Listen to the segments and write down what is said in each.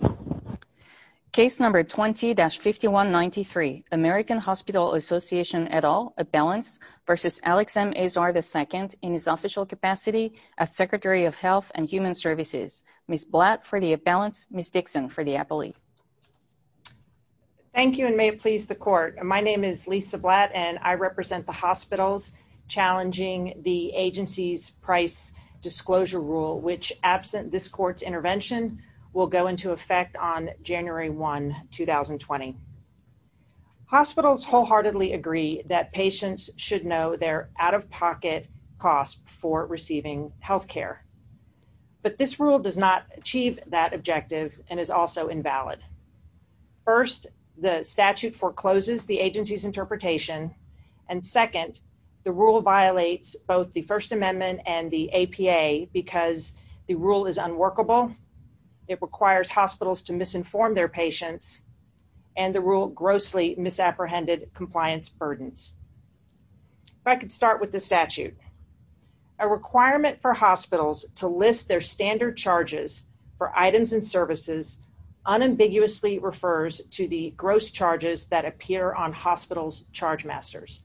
as Secretary of Health and Human Services, Ms. Blatt for the Abalance, Ms. Dixon for the Appellee. Thank you, and may it please the Court, my name is Lisa Blatt and I represent the hospitals challenging the agency's price disclosure rule, which absent this Court's intervention will go into effect on January 1, 2020. Hospitals wholeheartedly agree that patients should know their out-of-pocket costs for receiving health care, but this rule does not achieve that objective and is also invalid. First, the statute forecloses the agency's interpretation, and second, the rule violates both the First Amendment and the APA because the rule is unworkable, it requires hospitals to misinform their patients, and the rule grossly misapprehended compliance burdens. If I could start with the statute. A requirement for hospitals to list their standard charges for items and services unambiguously refers to the gross charges that appear on hospitals' chargemasters.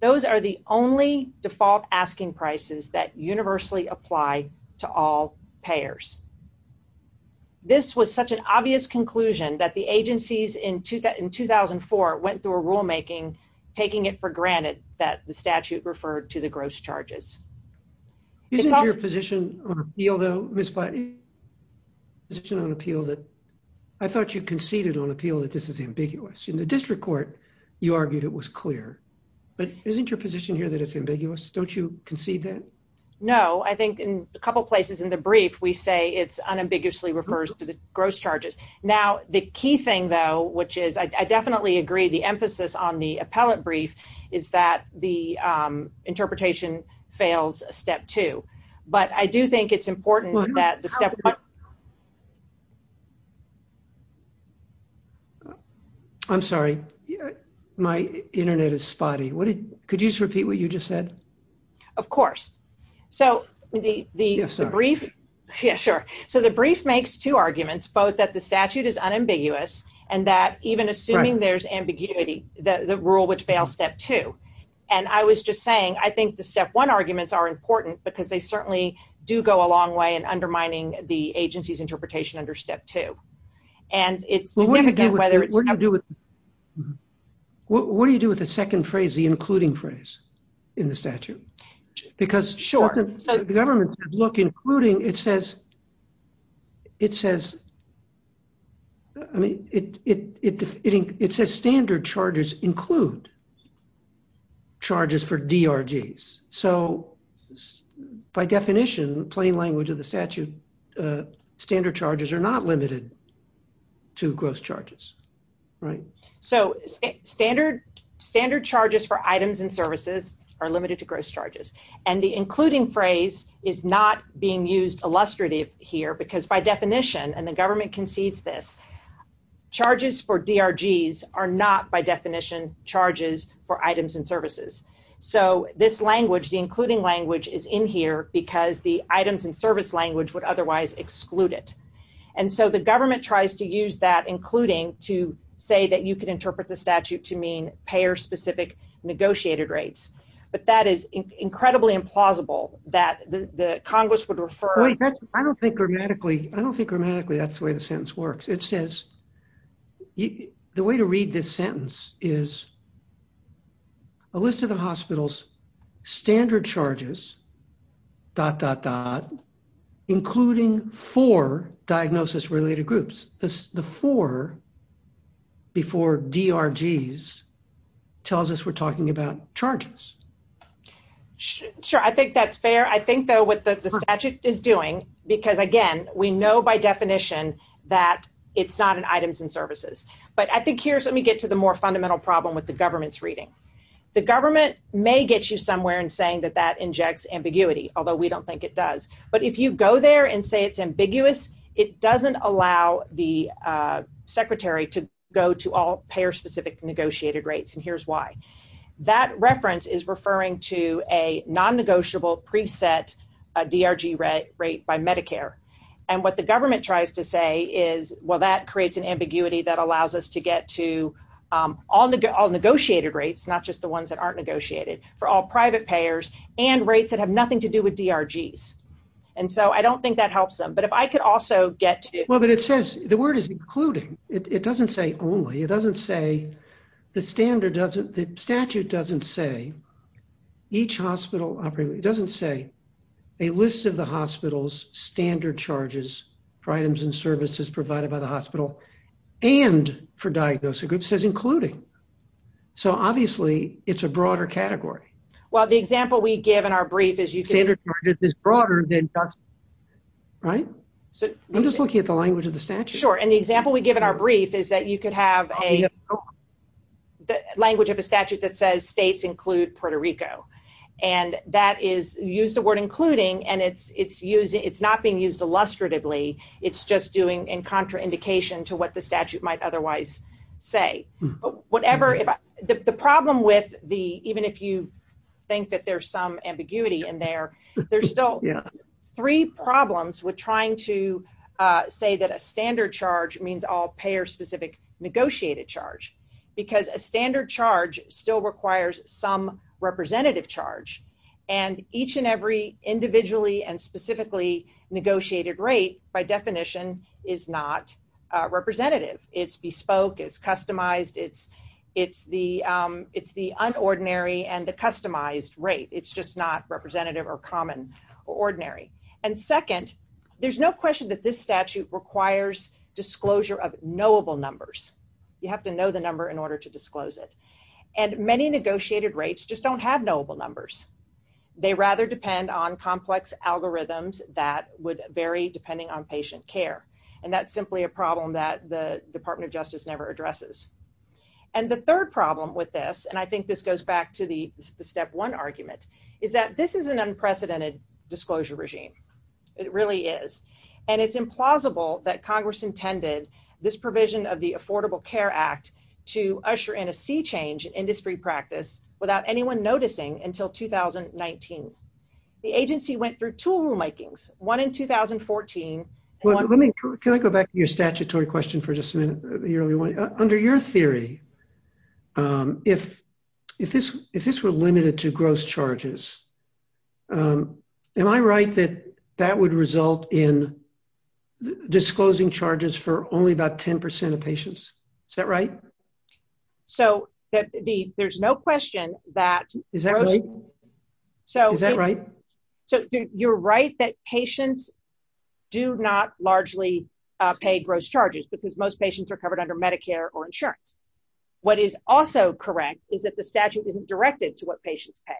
Those are the only default asking prices that universally apply to all payers. This was such an obvious conclusion that the agencies in 2004 went through a rulemaking taking it for granted that the statute referred to the gross charges. Isn't your position on appeal, Ms. Blatt, I thought you conceded on appeal that this is ambiguous. In the district court, you argued it was clear, but isn't your position here that it's ambiguous? Don't you concede that? No. I think in a couple places in the brief, we say it's unambiguously refers to the gross charges. Now, the key thing, though, which is I definitely agree the emphasis on the appellate brief is that the interpretation fails step two, but I do think it's important that the step I'm sorry. My internet is spotty. Could you just repeat what you just said? Of course. So the brief makes two arguments, both that the statute is unambiguous and that even assuming there's ambiguity, the rule would fail step two. And I was just saying, I think the step one arguments are important because they certainly do go a long way in undermining the agency's interpretation under step two. And it's again, whether it's What do you do with the second phrase, the including phrase in the statute? Because the government says, look, including, it says standard charges include charges for DRGs. So by definition, plain language of the statute, standard charges are not limited to gross charges. Right? So standard charges for items and services are limited to gross charges. And the including phrase is not being used illustrative here because by definition, and the government concedes this, charges for DRGs are not by definition charges for items and services. So this language, the including language is in here because the items and service language would otherwise exclude it. And so the government tries to use that including to say that you can interpret the statute to mean payer specific negotiated rates, but that is incredibly implausible that the Congress would refer. I don't think grammatically, I don't think grammatically that's the way the sentence works. It says, the way to read this sentence is a list of the hospital's standard charges, dot, dot, dot, including four diagnosis related groups. The four before DRGs tells us we're talking about charges. Sure. I think that's fair. I think though what the statute is doing, because again, we know by definition that it's not an items and services, but I think here's, let me get to the more fundamental problem with the government's reading. The government may get you somewhere in saying that that injects ambiguity, although we don't think it does. But if you go there and say it's ambiguous, it doesn't allow the secretary to go to all payer specific negotiated rates and here's why. That reference is referring to a non-negotiable preset DRG rate by Medicare. And what the government tries to say is, well, that creates an ambiguity that allows us to get to all negotiated rates, not just the ones that aren't negotiated, for all private payers and rates that have nothing to do with DRGs. And so I don't think that helps them. But if I could also get to- Well, but it says, the word is including. It doesn't say only. It doesn't say the standard doesn't, the statute doesn't say each hospital doesn't say a list of the hospital's standard charges for items and services provided by the hospital and for diagnosis. It says including. So obviously, it's a broader category. Well, the example we give in our brief is you can- Standard charges is broader than- Right? I'm just looking at the language of the statute. Sure. And the example we give in our brief is that you could have a language of a statute that says states include Puerto Rico. And that is, you use the word including, and it's not being used illustratively. It's just doing a contraindication to what the statute might otherwise say. The problem with the, even if you think that there's some ambiguity in there, there's still Three problems with trying to say that a standard charge means all payer-specific negotiated charge, because a standard charge still requires some representative charge. And each and every individually and specifically negotiated rate, by definition, is not representative. It's bespoke, it's customized, it's the unordinary and the customized rate. It's just not representative or common or ordinary. And second, there's no question that this statute requires disclosure of knowable numbers. You have to know the number in order to disclose it. And many negotiated rates just don't have knowable numbers. They rather depend on complex algorithms that would vary depending on patient care. And that's simply a problem that the Department of Justice never addresses. And the third problem with this, and I think this goes back to the step one argument, is that this is an unprecedented disclosure regime. It really is. And it's implausible that Congress intended this provision of the Affordable Care Act to usher in a sea change in industry practice without anyone noticing until 2019. The agency went through two rulemakings, one in 2014, and one in 2019. Can I go back to your statutory question for just a minute? Under your theory, if this were limited to gross charges, am I right that that would result in disclosing charges for only about 10% of patients? Is that right? So, there's no question that... Is that right? Is that right? So, you're right that patients do not largely pay gross charges because most patients are covered under Medicare or insurance. What is also correct is that the statute isn't directed to what patients pay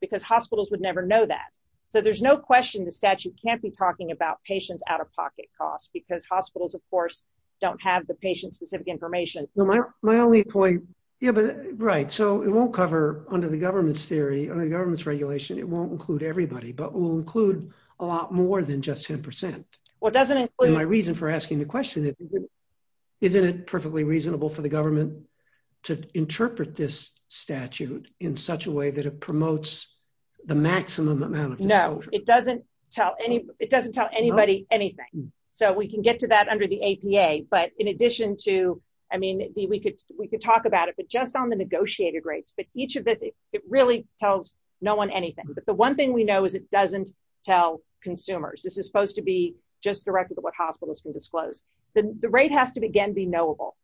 because hospitals would never know that. So, there's no question the statute can't be talking about patients' out-of-pocket costs because hospitals, of course, don't have the patient-specific information. My only point... Right, so it won't cover, under the government's theory, under the government's regulation, it won't include everybody, but it will include a lot more than just 10%. My reason for asking the question is, isn't it perfectly reasonable for the government to interpret this statute in such a way that it promotes the maximum amount of... No, it doesn't tell anybody anything. So, we can get to that under the APA, but in addition to... I mean, we could talk about it, but just on the negotiated rates, it really tells no one anything. But the one thing we know is it doesn't tell consumers. This is supposed to be just directed to what hospitals can disclose. The rate has to, again, be knowable.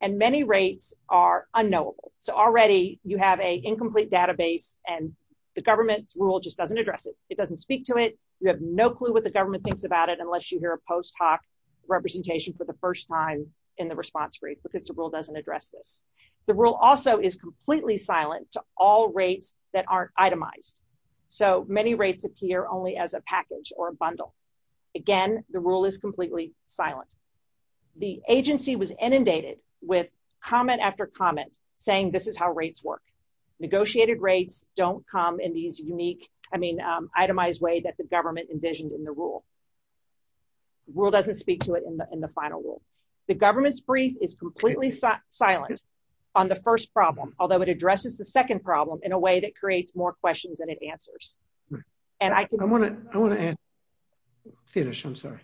And many rates are unknowable. So, already, you have an incomplete database, and the government's rule just doesn't address it. It doesn't speak to it. You have no clue what the government thinks about it unless you hear a post-hoc representation for the first time in the response brief, because the rule doesn't address this. The rule also is completely silent to all rates that aren't itemized. So, many rates appear only as a package or a bundle. Again, the rule is completely silent. The agency was inundated with comment after comment saying this is how rates work. Negotiated rates don't come in these unique... I mean, itemized way that the government envisioned in the rule. Rule doesn't speak to it in the final rule. The government's brief is completely silent on the first problem, although it addresses the second problem in a way that creates more questions than it answers. And I can... I want to... Finish. I'm sorry.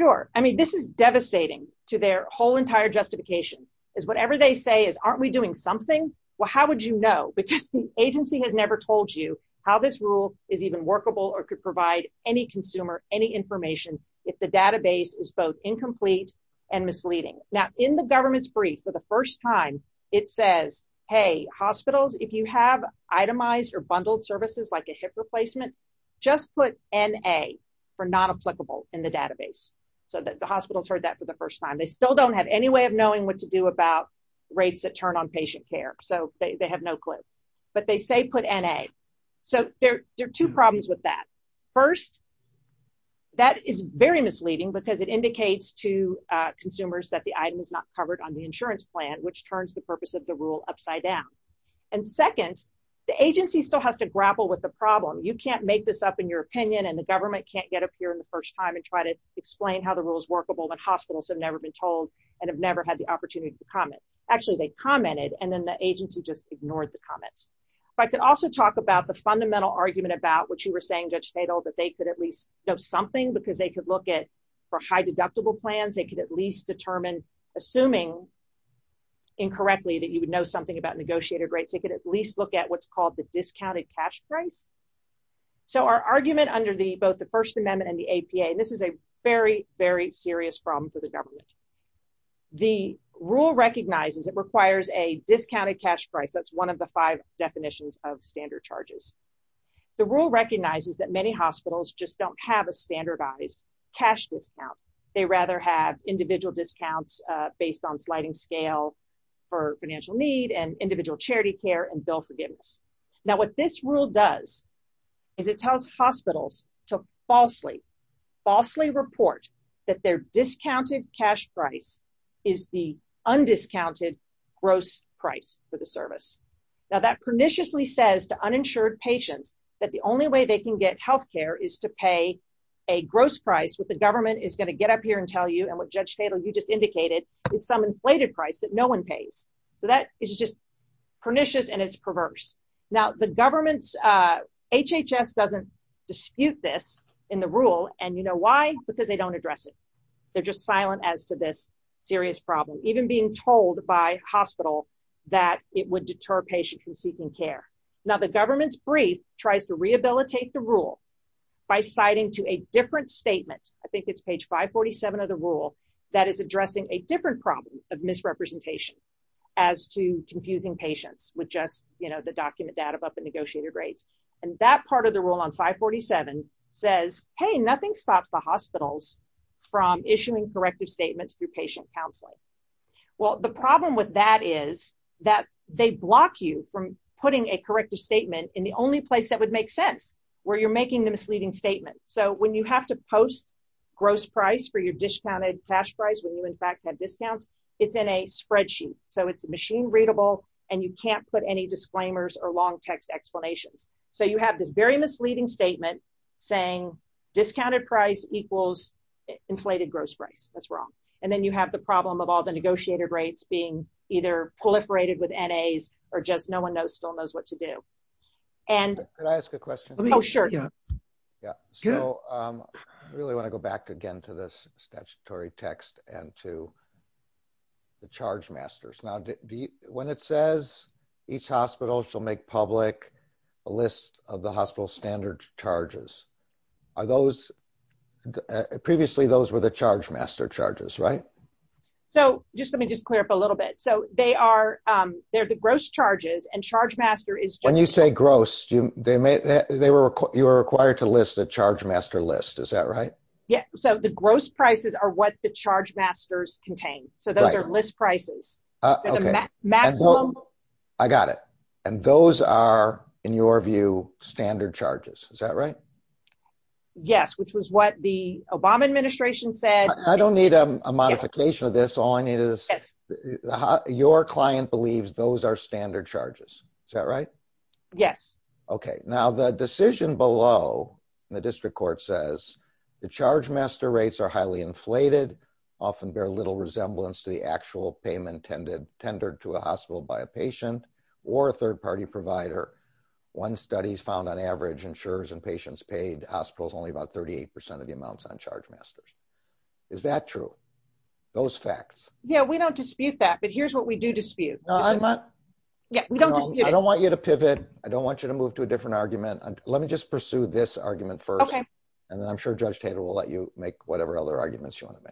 Sure. I mean, this is devastating to their whole entire justification, is whatever they say is, aren't we doing something? Well, how would you know? Because the agency has never told you how this rule is even workable or could provide any consumer any information if the database is both incomplete and misleading. Now, in the government's brief, for the first time, it says, hey, hospitals, if you have itemized or bundled services like a hip replacement, just put NA for not applicable in the database. So the hospitals heard that for the first time. They still don't have any way of knowing what to do about rates that turn on patient care. So they have no clue. But they say put NA. So there are two problems with that. First, that is very misleading because it indicates to consumers that the item is not covered on the insurance plan, which turns the purpose of the rule upside down. And second, the agency still has to grapple with the problem. You can't make this up in your opinion, and the government can't get up here in the first time and try to explain how the rule is workable when hospitals have never been told and have never had the opportunity to comment. Actually, they commented, and then the agency just ignored the comments. But I could also talk about the fundamental argument about what you were saying, Judge Fadel, that they could at least know something because they could look at, for high deductible plans, they could at least determine, assuming incorrectly that you would know something about negotiated rate, they could at least look at what's called the discounted cash price. So our argument under both the First Amendment and the APA, this is a very, very serious problem for the government. The rule recognizes it requires a discounted cash price. That's one of the five definitions of standard charges. The rule recognizes that many hospitals just don't have a standardized cash discount. They rather have individual discounts based on sliding scale for financial need and individual charity care and bill forgiveness. Now, what this rule does is it tells hospitals to falsely, falsely report that their discounted cash price is the undiscounted gross price for the service. Now, that perniciously says to uninsured patients that the only way they can get healthcare is to pay a gross price which the government is gonna get up here and tell you and what Judge Stadel, you just indicated, is some inflated price that no one pays. So that is just pernicious and it's perverse. Now, the government's, HHS doesn't dispute this in the rule and you know why? Because they don't address it. They're just silent as to this serious problem, even being told by hospitals that it would deter patients from seeking care. Now, the government's brief tries to rehabilitate the rule by citing to a different statement. I think it's page 547 of the rule that is addressing a different problem of misrepresentation as to confusing patients with just, you know, the document data about the negotiated rate. And that part of the rule on 547 says, hey, nothing stops the hospitals from issuing corrective statements through patient counseling. Well, the problem with that is that they block you from putting a corrective statement in the only place that would make sense where you're making the misleading statement. So when you have to post gross price for your discounted cash price, when you in fact have discounts, it's in a spreadsheet. So it's machine readable and you can't put any disclaimers or long text explanations. So you have this very misleading statement saying discounted price equals inflated gross price. That's wrong. And then you have the problem of all the negotiated rates being either proliferated with NAs or just no one knows, still knows what to do. And... Can I ask a question? Oh, sure. Yeah. So I really want to go back again to this statutory text and to the charge masters. Now, when it says each hospital shall make public a list of the hospital's standard charges, are those... Previously, those were the charge master charges, right? So just let me just clear up a little bit. So they're the gross charges and charge master is... When you say gross, you are required to list the charge master list. Is that right? Yeah. So the gross prices are what the charge masters contain. So those are list prices. Okay. And the maximum... I got it. And those are, in your view, standard charges. Is that right? Yes, which was what the Obama administration said. I don't need a modification of this. All I need is... Yes. Your client believes those are standard charges. Is that right? Yes. Okay. Now, the decision below in the district court says the charge master rates are highly inflated, often bear little resemblance to the actual payment tendered to a hospital by a patient or a third-party provider. One study found on average insurers and patients paid hospitals only about 38% of the amounts on charge masters. Is that true? Those facts? Yeah, we don't dispute that. But here's what we do dispute. No, I'm not... Yeah, we don't dispute it. I don't want you to pivot. I don't want you to move to a different argument. Let me just pursue this argument first. Okay. And then I'm sure Judge Taylor will let you make whatever other arguments you want to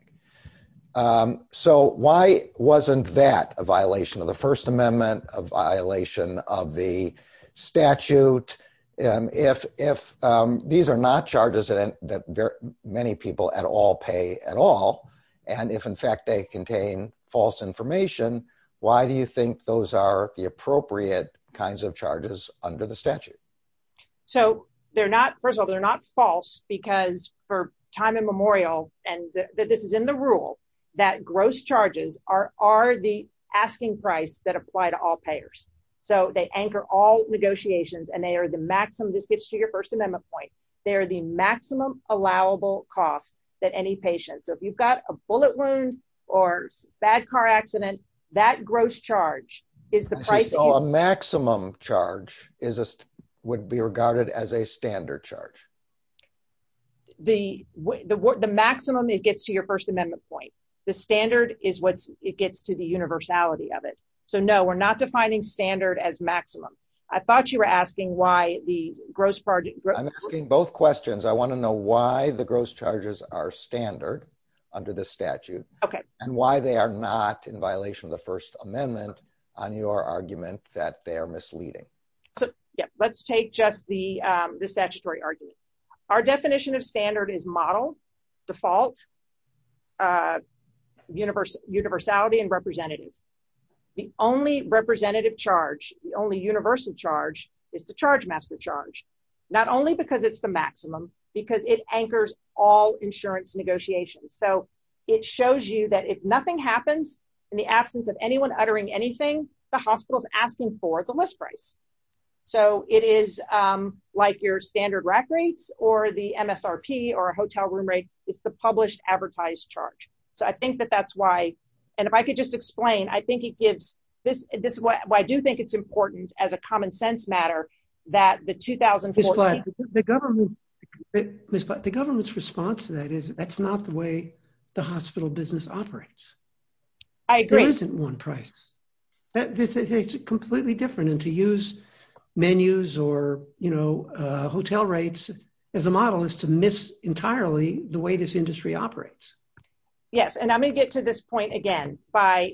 make. So why wasn't that a violation of the First Amendment, a violation of the statute? If these are not charges that many people at all pay at all, and if in fact they contain false information, why do you think those are the appropriate kinds of charges under the statute? So they're not... First of all, they're not false because for time and memorial, and this is in the rule, that gross charges are the asking price that apply to all payers. So they anchor all negotiations and they are the maximum that fits to your First Amendment point. They are the maximum allowable cost that any patient... So if you've got a bullet wound or a bad car accident, that gross charge is the price... So a maximum charge would be regarded as a standard charge? The maximum it gets to your First Amendment point. The standard is what it gets to the universality of it. So no, we're not defining standard as maximum. I thought you were asking why the gross part... I'm asking both questions. I want to know why the gross charges are standard under the statute and why they are not in violation of the First Amendment on your argument that they are misleading. Let's take just the statutory argument. Our definition of standard is modeled, default, universality, and representative. The only representative charge, the only universal charge, is the charge master charge, not only because it's the maximum, because it anchors all insurance negotiations. So it shows you that if nothing happens in the absence of anyone uttering anything, the hospital is asking for the list price. So it is like your standard rack rates or the MSRP or a hotel room rate. It's the published advertised charge. So I think that that's why... And if I could just explain, I think it gives... This is why I do think it's important as a common sense matter that the 2014... The government's response to that is that's not the way the hospital business operates. I agree. There isn't one price. It's completely different. And to use menus or hotel rates as a model is to miss entirely the way this industry operates. Yes, and I'm going to get to this point again by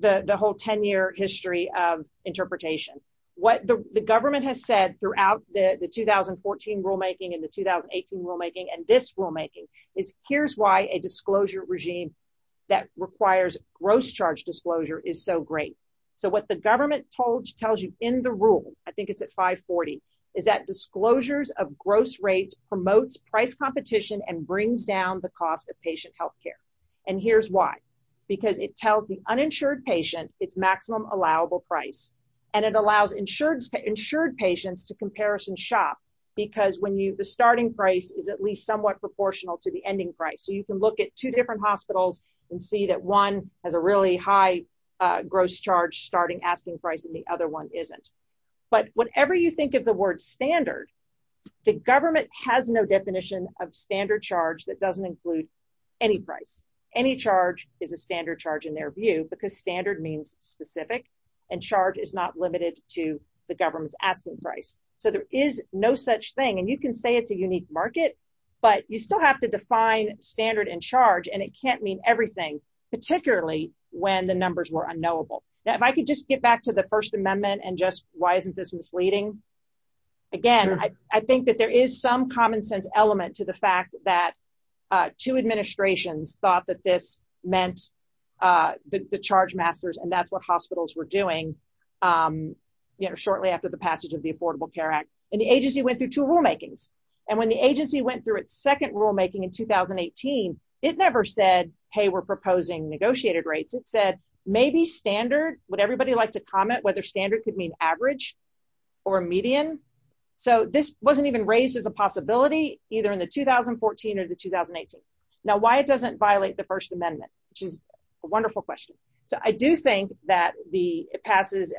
the whole 10-year history of interpretation. What the government has said throughout the 2014 rulemaking and the 2018 rulemaking and this rulemaking is here's why a disclosure regime that requires gross charge disclosure is so great. So what the government tells you in the rule, I think it's at 540, is that disclosures of gross rates promotes price competition and brings down the cost of patient healthcare. And here's why. Because it tells the uninsured patient its maximum allowable price and it allows insured patients to comparison shop because the starting price is at least somewhat proportional to the ending price. So you can look at two different hospitals and see that one has a really high gross charge starting asking price and the other one isn't. But whatever you think of the word standard, the government has no definition of standard charge that doesn't include any price. Any charge is a standard charge in their view because standard means specific and charge is not limited to the government's asking price. So there is no such thing and you can say it's a unique market, but you still have to define standard and charge and it can't mean everything, particularly when the numbers were unknowable. If I could just get back to the First Amendment and just why isn't this misleading? Again, I think that there is some common sense element to the fact that two administrations thought that this meant the charge masters and that's what hospitals were doing shortly after the passage of the Affordable Care Act. And the agency went through two rulemakings. And when the agency went through its second rulemaking in 2018, it never said, hey, we're proposing negotiated rates. It said maybe standard, would everybody like to comment whether standard could mean average or median? So this wasn't even raised as a possibility either in the 2014 or the 2018. Now, why it doesn't violate the First Amendment? Which is a wonderful question. I do think that it passes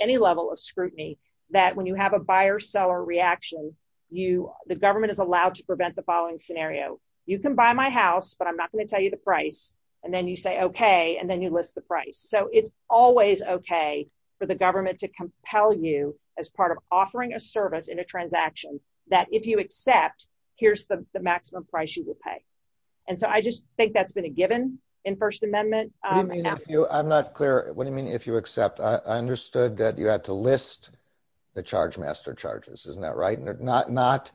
any level of scrutiny that when you have a buyer-seller reaction, the government is allowed to prevent the following scenario. You can buy my house, but I'm not going to tell you the price. And then you say, okay, and then you list the price. So it's always okay for the government to compel you as part of offering a service in a transaction that if you accept, here's the maximum price you would pay. And so I just think that's been a given in First Amendment. What do you mean if you, I'm not clear. What do you mean if you accept? I understood that you had to list the charge master charges, isn't that right? Not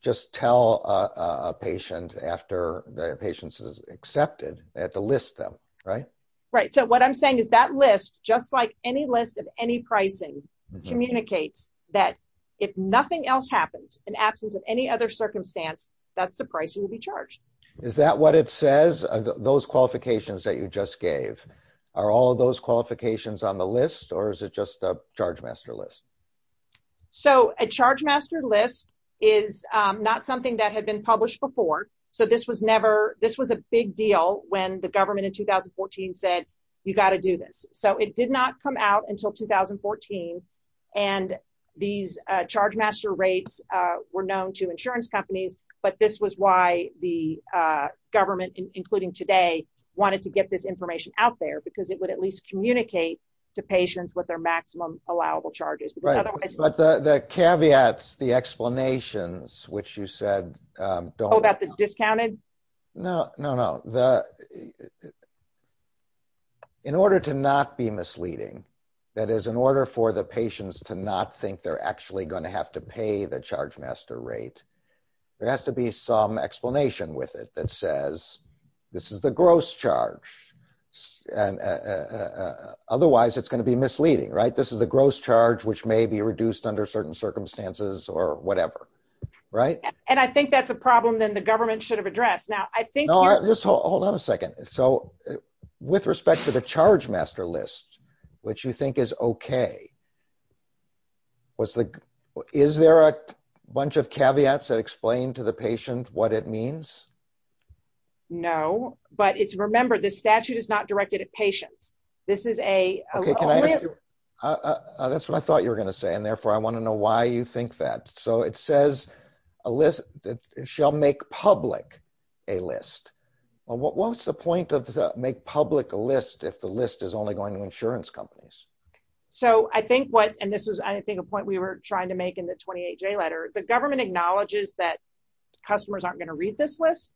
just tell a patient after the patient is accepted. They have to list them, right? Right, so what I'm saying is that list, just like any list of any pricing, communicates that if nothing else happens, in absence of any other circumstance, that's the price you will be charged. Is that what it says, those qualifications that you just gave? Are all those qualifications on the list? Or is it just the charge master list? So a charge master list is not something that had been published before. So this was never, this was a big deal when the government in 2014 said, you got to do this. So it did not come out until 2014. And these charge master rates were known to insurance companies, but this was why the government, including today, wanted to get this information out there because it would at least communicate to patients what their maximum allowable charge is. But the caveats, the explanations, which you said don't... Oh, about the discounted? No, no, no. In order to not be misleading, that is, in order for the patients to not think they're actually going to have to pay the charge master rate, there has to be some explanation with it that says this is the gross charge. Otherwise, it's going to be misleading, right? This is the gross charge which may be reduced under certain circumstances or whatever, right? And I think that's a problem that the government should have addressed. Now, I think... Hold on a second. So with respect to the charge master list, which you think is okay, is there a bunch of caveats that explain to the patient what it means? No, but it's... Remember, the statute is not directed at patients. This is a list... That's what I thought you were going to say, and therefore I want to know why you think that. So it says a list... Well, what's the point of the make public a list if the list is only going to insurance companies? So I think what... And this is, I think, a point we were trying to make in the 28-J letter. The government acknowledges that customers aren't going to read this list,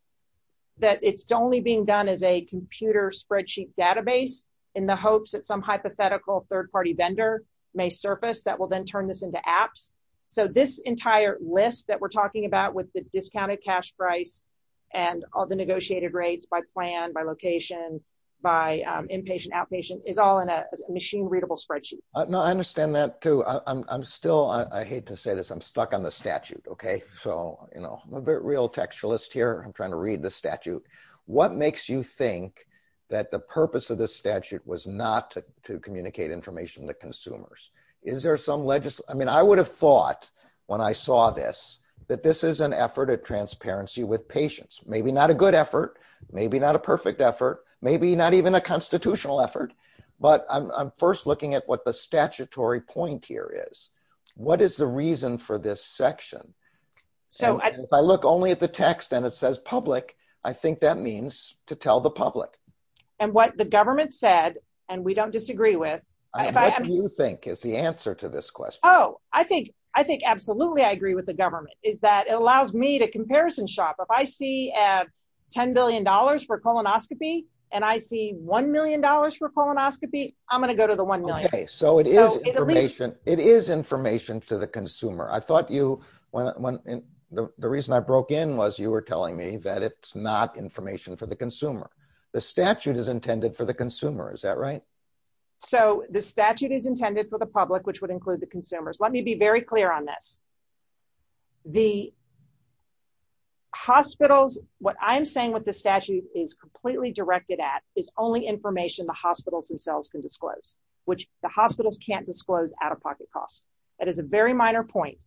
that it's only being done as a computer spreadsheet database in the hopes that some hypothetical third-party vendor may surface that will then turn this into apps. So this entire list that we're talking about with the discounted cash price and all the negotiated rates by plan, by location, by inpatient, outpatient, is all in a machine-readable spreadsheet. No, I understand that, too. I'm still... I hate to say this. I'm stuck on the statute, okay? So, you know, I'm a bit real textualist here. I'm trying to read the statute. What makes you think that the purpose of the statute was not to communicate information to consumers? Is there some legis... I mean, I would have thought when I saw this that this is an effort at transparency with patients. Maybe not a good effort, maybe not a perfect effort, maybe not even a constitutional effort. But I'm first looking at what the statutory point here is. What is the reason for this section? If I look only at the text and it says public, I think that means to tell the public. And what the government said, and we don't disagree with... What do you think is the answer to this question? Oh, I think absolutely I agree with the government, is that it allows me to comparison shop. If I see $10 billion for colonoscopy and I see $1 million for colonoscopy, I'm going to go to the $1 million. Okay, so it is information to the consumer. I thought you... The reason I broke in was you were telling me that it's not information for the consumer. The statute is intended for the consumer, is that right? So the statute is intended for the public, which would include the consumers. Let me be very clear on this. The hospitals... What I'm saying with the statute is completely directed at is only information the hospitals themselves can disclose, which the hospitals can't disclose out-of-pocket costs. That is a very minor point.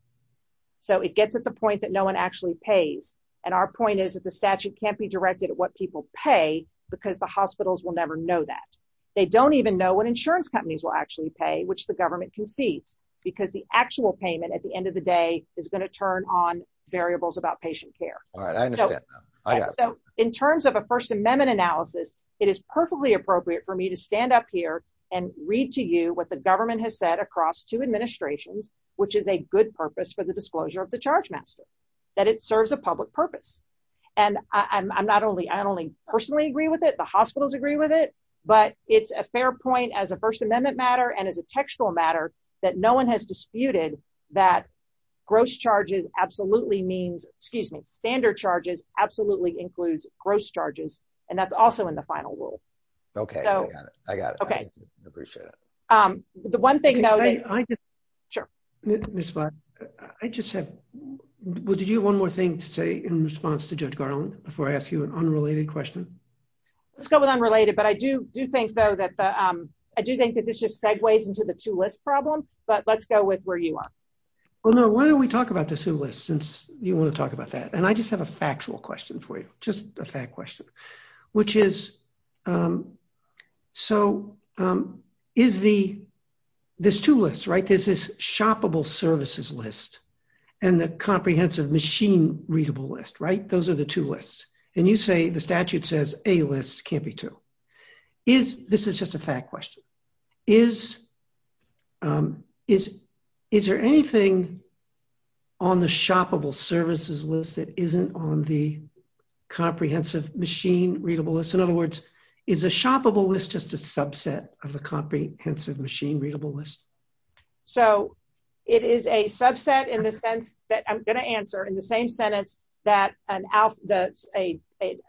So it gets at the point that no one actually pays. And our point is that the statute can't be directed at what people pay because the hospitals will never know that. They don't even know what insurance companies will actually pay, which the government can see, because the actual payment at the end of the day is going to turn on variables about patient care. All right, I understand. I got it. In terms of a First Amendment analysis, it is perfectly appropriate for me to stand up here and read to you what the government has said across two administrations, which is a good purpose for the disclosure of the chargemaster, that it serves a public purpose. And I not only personally agree with it, the hospitals agree with it, but it's a fair point as a First Amendment matter and as a textual matter that no one has disputed that gross charges absolutely means, excuse me, standard charges absolutely includes gross charges. And that's also in the final rule. Okay, I got it. I got it. I appreciate it. The one thing, though... Sure. Would you have one more thing to say in response to Judge Garland before I ask you an unrelated question? Let's go with unrelated, but I do think, though, I do think that this just segues into the two-list problem, but let's go with where you are. Well, no, why don't we talk about this two-list, since you want to talk about that? And I just have a factual question for you, just a fact question, which is... So, is the... There's two lists, right? There's this shoppable services list and the comprehensive machine-readable list, right? Those are the two lists. And you say, the statute says a list can't be two. Is... This is just a fact question. Is... Is there anything on the shoppable services list that isn't on the comprehensive machine-readable list? In other words, is a shoppable list just a subset of a comprehensive machine-readable list? So, it is a subset in the sense that... I'm going to answer in the same sentence that a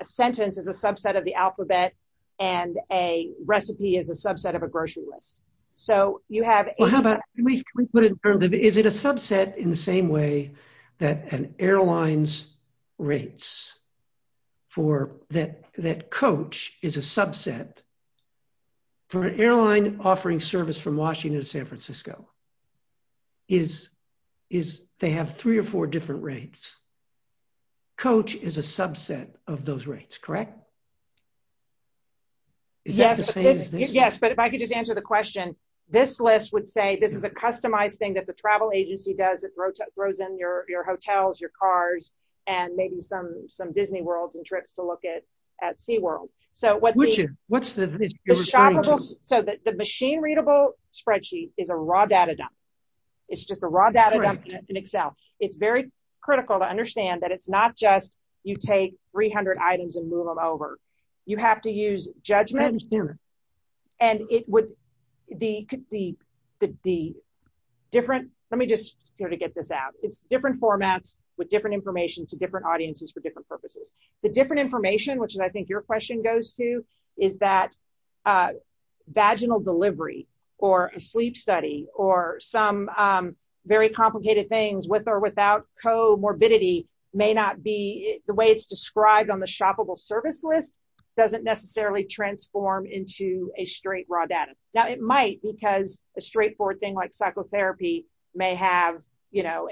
sentence is a subset of the alphabet, and a recipe is a subset of a grocery list. So, you have... Well, how about... Can we put it in terms of... Is it a subset in the same way that an airline's rates for... That Coach is a subset... For an airline offering service from Washington to San Francisco, is... They have three or four different rates. Coach is a subset of those rates, correct? Yes. Yes, but if I could just answer the question, this list would say this is a customized thing that the travel agency does. It throws in your hotels, your cars, and maybe some Disney World and trips to look at SeaWorld. So, what's the... The shoppable... So, the machine-readable spreadsheet is a raw data dump. It's just a raw data dump in Excel. It's very critical to understand that it's not just you take 300 items and move them over. You have to use judgment. And it would be... Let me just get this out. It's different formats with different information to different audiences for different purposes. The different information, which I think your question goes to, is that vaginal delivery or a sleep study or some very complicated things with or without comorbidity may not be... The way it's described on the shoppable service list doesn't necessarily transform into a straight raw data. Now, it might because a straightforward thing like psychotherapy may have, you know,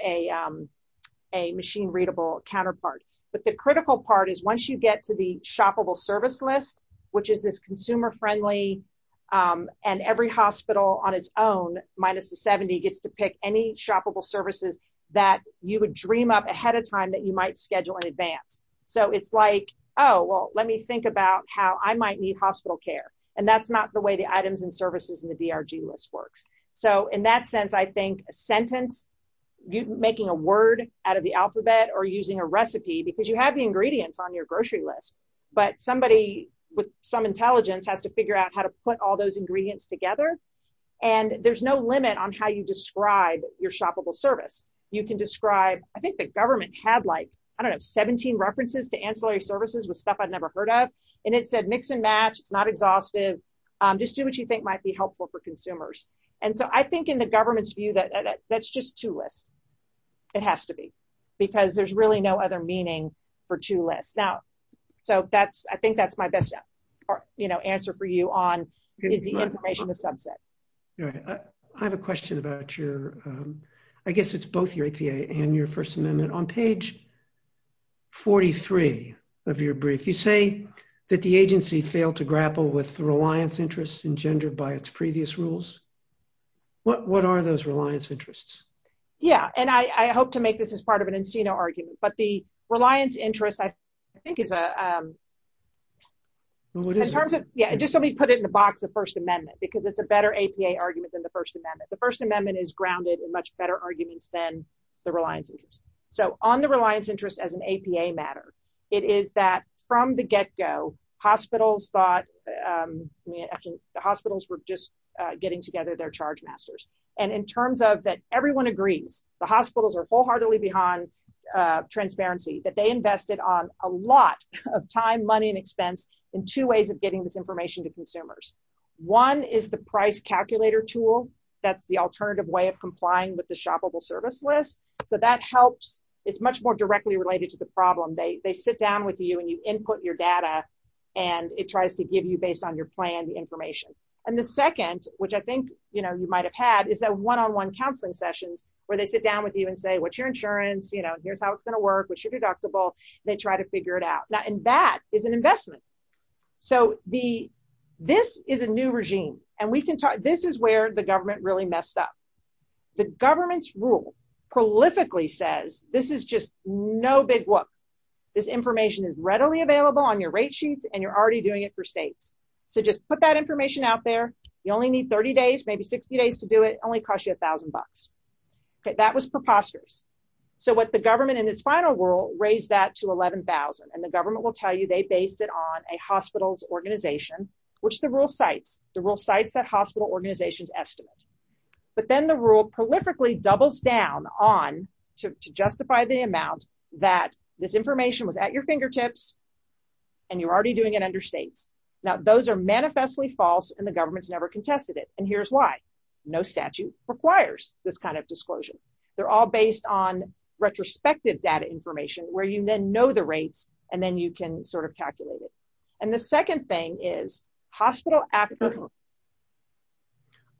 a machine-readable counterpart. But the critical part is once you get to the shoppable service list, which is this consumer-friendly... And every hospital on its own, minus the 70, gets to pick any shoppable services that you would dream up ahead of time that you might schedule in advance. So it's like, oh, well, let me think about how I might need hospital care. And that's not the way the items and services in the DRG list works. So in that sense, I think a sentence, making a word out of the alphabet or using a recipe, because you have the ingredients on your grocery list. But somebody with some intelligence has to figure out how to put all those ingredients together. And there's no limit on how you describe your shoppable service. You can describe... I think the government had like, I don't know, 17 references to ancillary services with stuff I've never heard of. And it said mix and match, not exhaustive. Just do what you think might be helpful for consumers. And so I think in the government's view that that's just two lists. It has to be. Because there's really no other meaning for two lists. Now, so I think that's my best answer for you on the information in the subset. All right. I have a question about your... I guess it's both your APA and your First Amendment. On page 43 of your brief, you say that the agency failed to grapple with the reliance interests engendered by its previous rules. What are those reliance interests? Yeah. And I hope to make this as part of an Encino argument. But the reliance interest, I think, is a... Well, what is it? Yeah, just let me put it in the box of First Amendment because it's a better APA argument than the First Amendment. The First Amendment is grounded in much better arguments than the reliance interest. So on the reliance interest as an APA matter, it is that from the get-go, hospitals thought... The hospitals were just getting together their chargemasters. And in terms of that everyone agrees, the hospitals are wholeheartedly behind transparency, that they invested on a lot of time, money, and expense in two ways of getting this information to consumers. One is the price calculator tool. That's the alternative way of complying with the shoppable service list. So that helps. It's much more directly related to the problem. They sit down with you and you input your data and it tries to give you, based on your plan, the information. And the second, which I think you might have had, is a one-on-one counseling session where they sit down with you and say, what's your insurance? Here's how it's going to work. What's your deductible? They try to figure it out. And that is an investment. So this is a new regime. And this is where the government really messed up. The government's rule prolifically says, this is just no big whoop. This information is readily available on your rate sheets and you're already doing it for state. So just put that information out there. You only need 30 days, maybe 60 days to do it. It'll only cost you $1,000. That was preposterous. So what the government, in its final rule, raised that to $11,000. And the government will tell you they based it on a hospital's organization, which the rule cites. The rule cites that hospital organization's estimate. But then the rule prolifically doubles down on, to justify the amount, that this information was at your fingertips and you're already doing it under state. Now, those are manifestly false and the government's never contested it. And here's why. No statute requires this kind of disclosure. They're all based on retrospective data information where you then know the rates and then you can sort of calculate it. And the second thing is, hospital applications.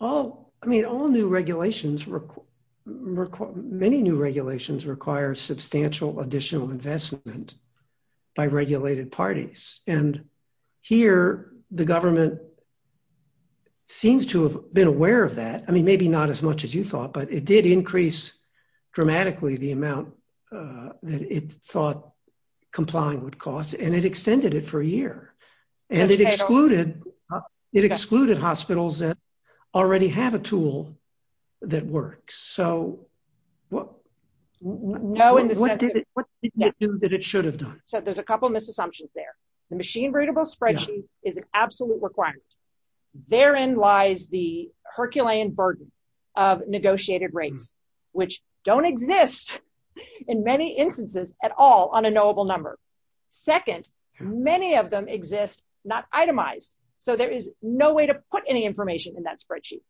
I mean, all new regulations, many new regulations, require substantial additional investment by regulated parties. And here, the government seems to have been aware of that. I mean, maybe not as much as you thought, but it did increase dramatically the amount that it thought complying would cost and it extended it for a year. And it excluded hospitals that already have a tool that works. So what did it do that it should have done? So there's a couple of misassumptions there. The machine readable spreadsheet is an absolute requirement. Therein lies the Herculean burden of negotiated rates, which don't exist in many instances at all on a knowable number. Second, many of them exist not itemized. So there is no way to put any information in that spreadsheet.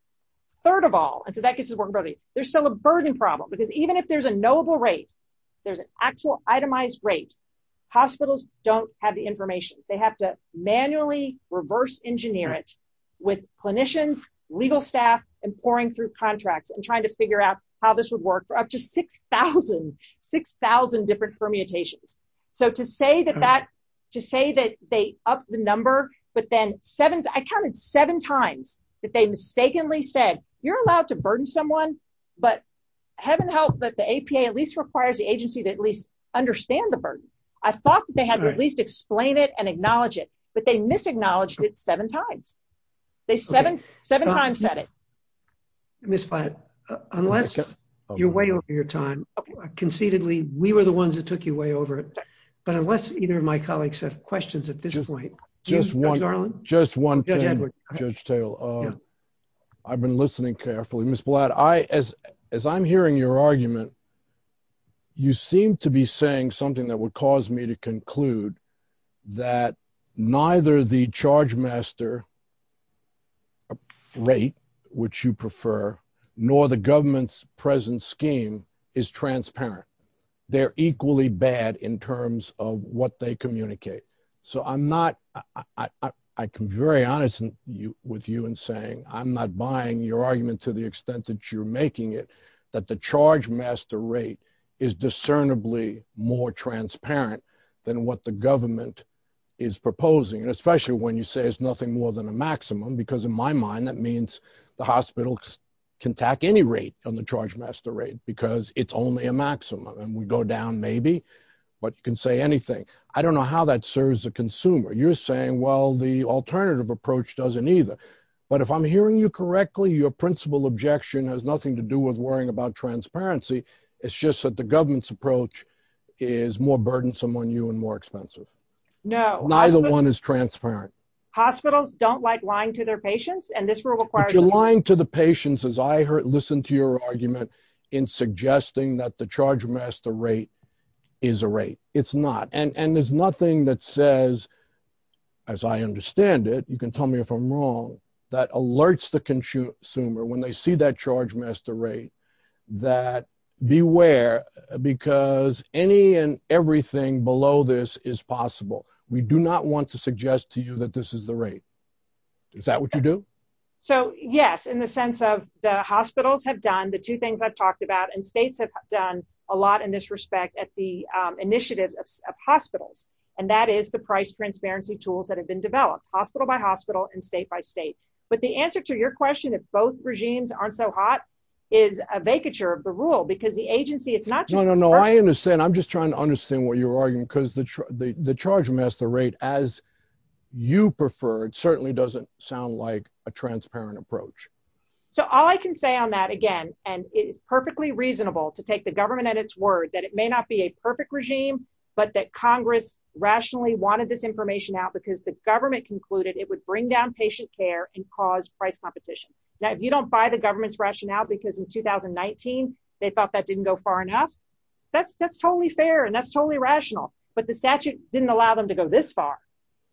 Third of all, there's still a burden problem, because even if there's a knowable rate, there's an actual itemized rate, hospitals don't have the information. They have to manually reverse engineer it with clinicians, legal staff, and poring through contracts and trying to figure out how this would work for up to 6,000 different permutations. So to say that they upped the number, but then I counted seven times that they mistakenly said, you're allowed to burden someone, but heaven help, but the APA at least requires the agency to at least understand the burden. I thought that they had to at least explain it and acknowledge it, but they misacknowledged it seven times. They seven times said it. Ms. Blatt, unless you're way over your time. Conceitedly, we were the ones that took you way over it. But unless either of my colleagues have questions at this point. Just one. Just one thing, Judge Taylor. I've been listening carefully. Ms. Blatt, as I'm hearing your argument, you seem to be saying something that would cause me to conclude that neither the charge master rate which you prefer, nor the government's present scheme is transparent. They're equally bad in terms of what they communicate. So I'm not, I can be very honest with you in saying I'm not buying your argument to the extent that you're making it that the charge master rate is discernibly more transparent than what the government is proposing. And especially when you say it's nothing more than a maximum, because in my mind, that means the hospital can tack any rate on the charge master rate because it's only a maximum. And we go down maybe, but you can say anything. I don't know how that serves the consumer. You're saying, well, the alternative approach doesn't either. But if I'm hearing you correctly, your principal objection has nothing to do with worrying about transparency. It's just that the government's approach is more burdensome on you and more expensive. Neither one is transparent. Hospitals don't like lying to their patients and this will require- If you're lying to the patients, as I heard, listened to your argument in suggesting that the charge master rate is a rate, it's not. And there's nothing that says, as I understand it, you can tell me if I'm wrong, that alerts the consumer when they see that charge master rate that beware because any and everything below this is possible. We do not want to suggest to you that this is the rate. Is that what you do? So, yes, in the sense of the hospitals have done the two things I've talked about and states have done a lot in this respect at the initiative of hospitals. And that is the price transparency tools that have been developed, hospital by hospital and state by state. But the answer to your question that both regimes aren't so hot is a vacature of the rule because the agency is not- No, no, no, I understand. I'm just trying to understand what you're arguing because the charge master rate as you prefer, certainly doesn't sound like a transparent approach. So, all I can say on that, again, and it's perfectly reasonable to take the government at its word that it may not be a perfect regime but that Congress rationally wanted this information out because the government concluded it would bring down patient care and cause price competition. Now, if you don't buy the government's rationale because in 2019, they thought that didn't go far enough, that's totally fair and that's totally rational but the statute didn't allow them to go this far.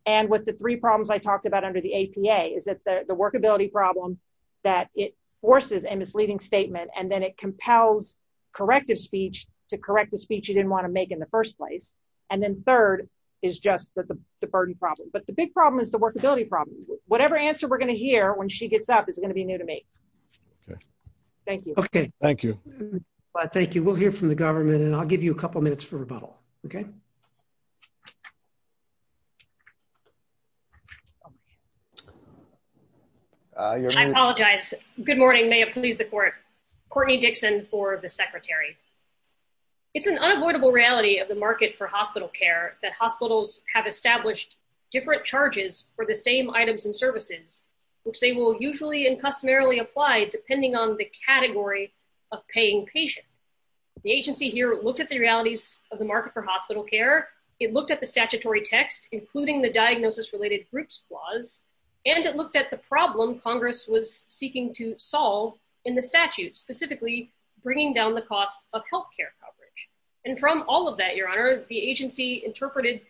And with the three problems I talked about under the APA is that the workability problem that it forces in its leading statement and then it compels corrective speech to correct the speech you didn't want to make in the first place. And then third is just the burden problem. But the big problem is the workability problem. Whatever answer we're going to hear when she gets up is going to be new to me. Thank you. Okay, thank you. Thank you. We'll hear from the government and I'll give you a couple minutes for rebuttal. Okay? I apologize. Good morning. May it please the court. Courtney Dixon for the secretary. It's an unavoidable reality of the market for hospital care that hospitals have established different charges for the same items and services which they will usually and customarily apply depending on the category of paying patients. The agency here looked at the realities of the market for hospital care. It looked at the statutory text including the diagnosis-related groups clause and it looked at the problem Congress was seeking to solve in the statute specifically bringing down the cost of health care coverage. And from all of that, Your Honor, the agency interpreted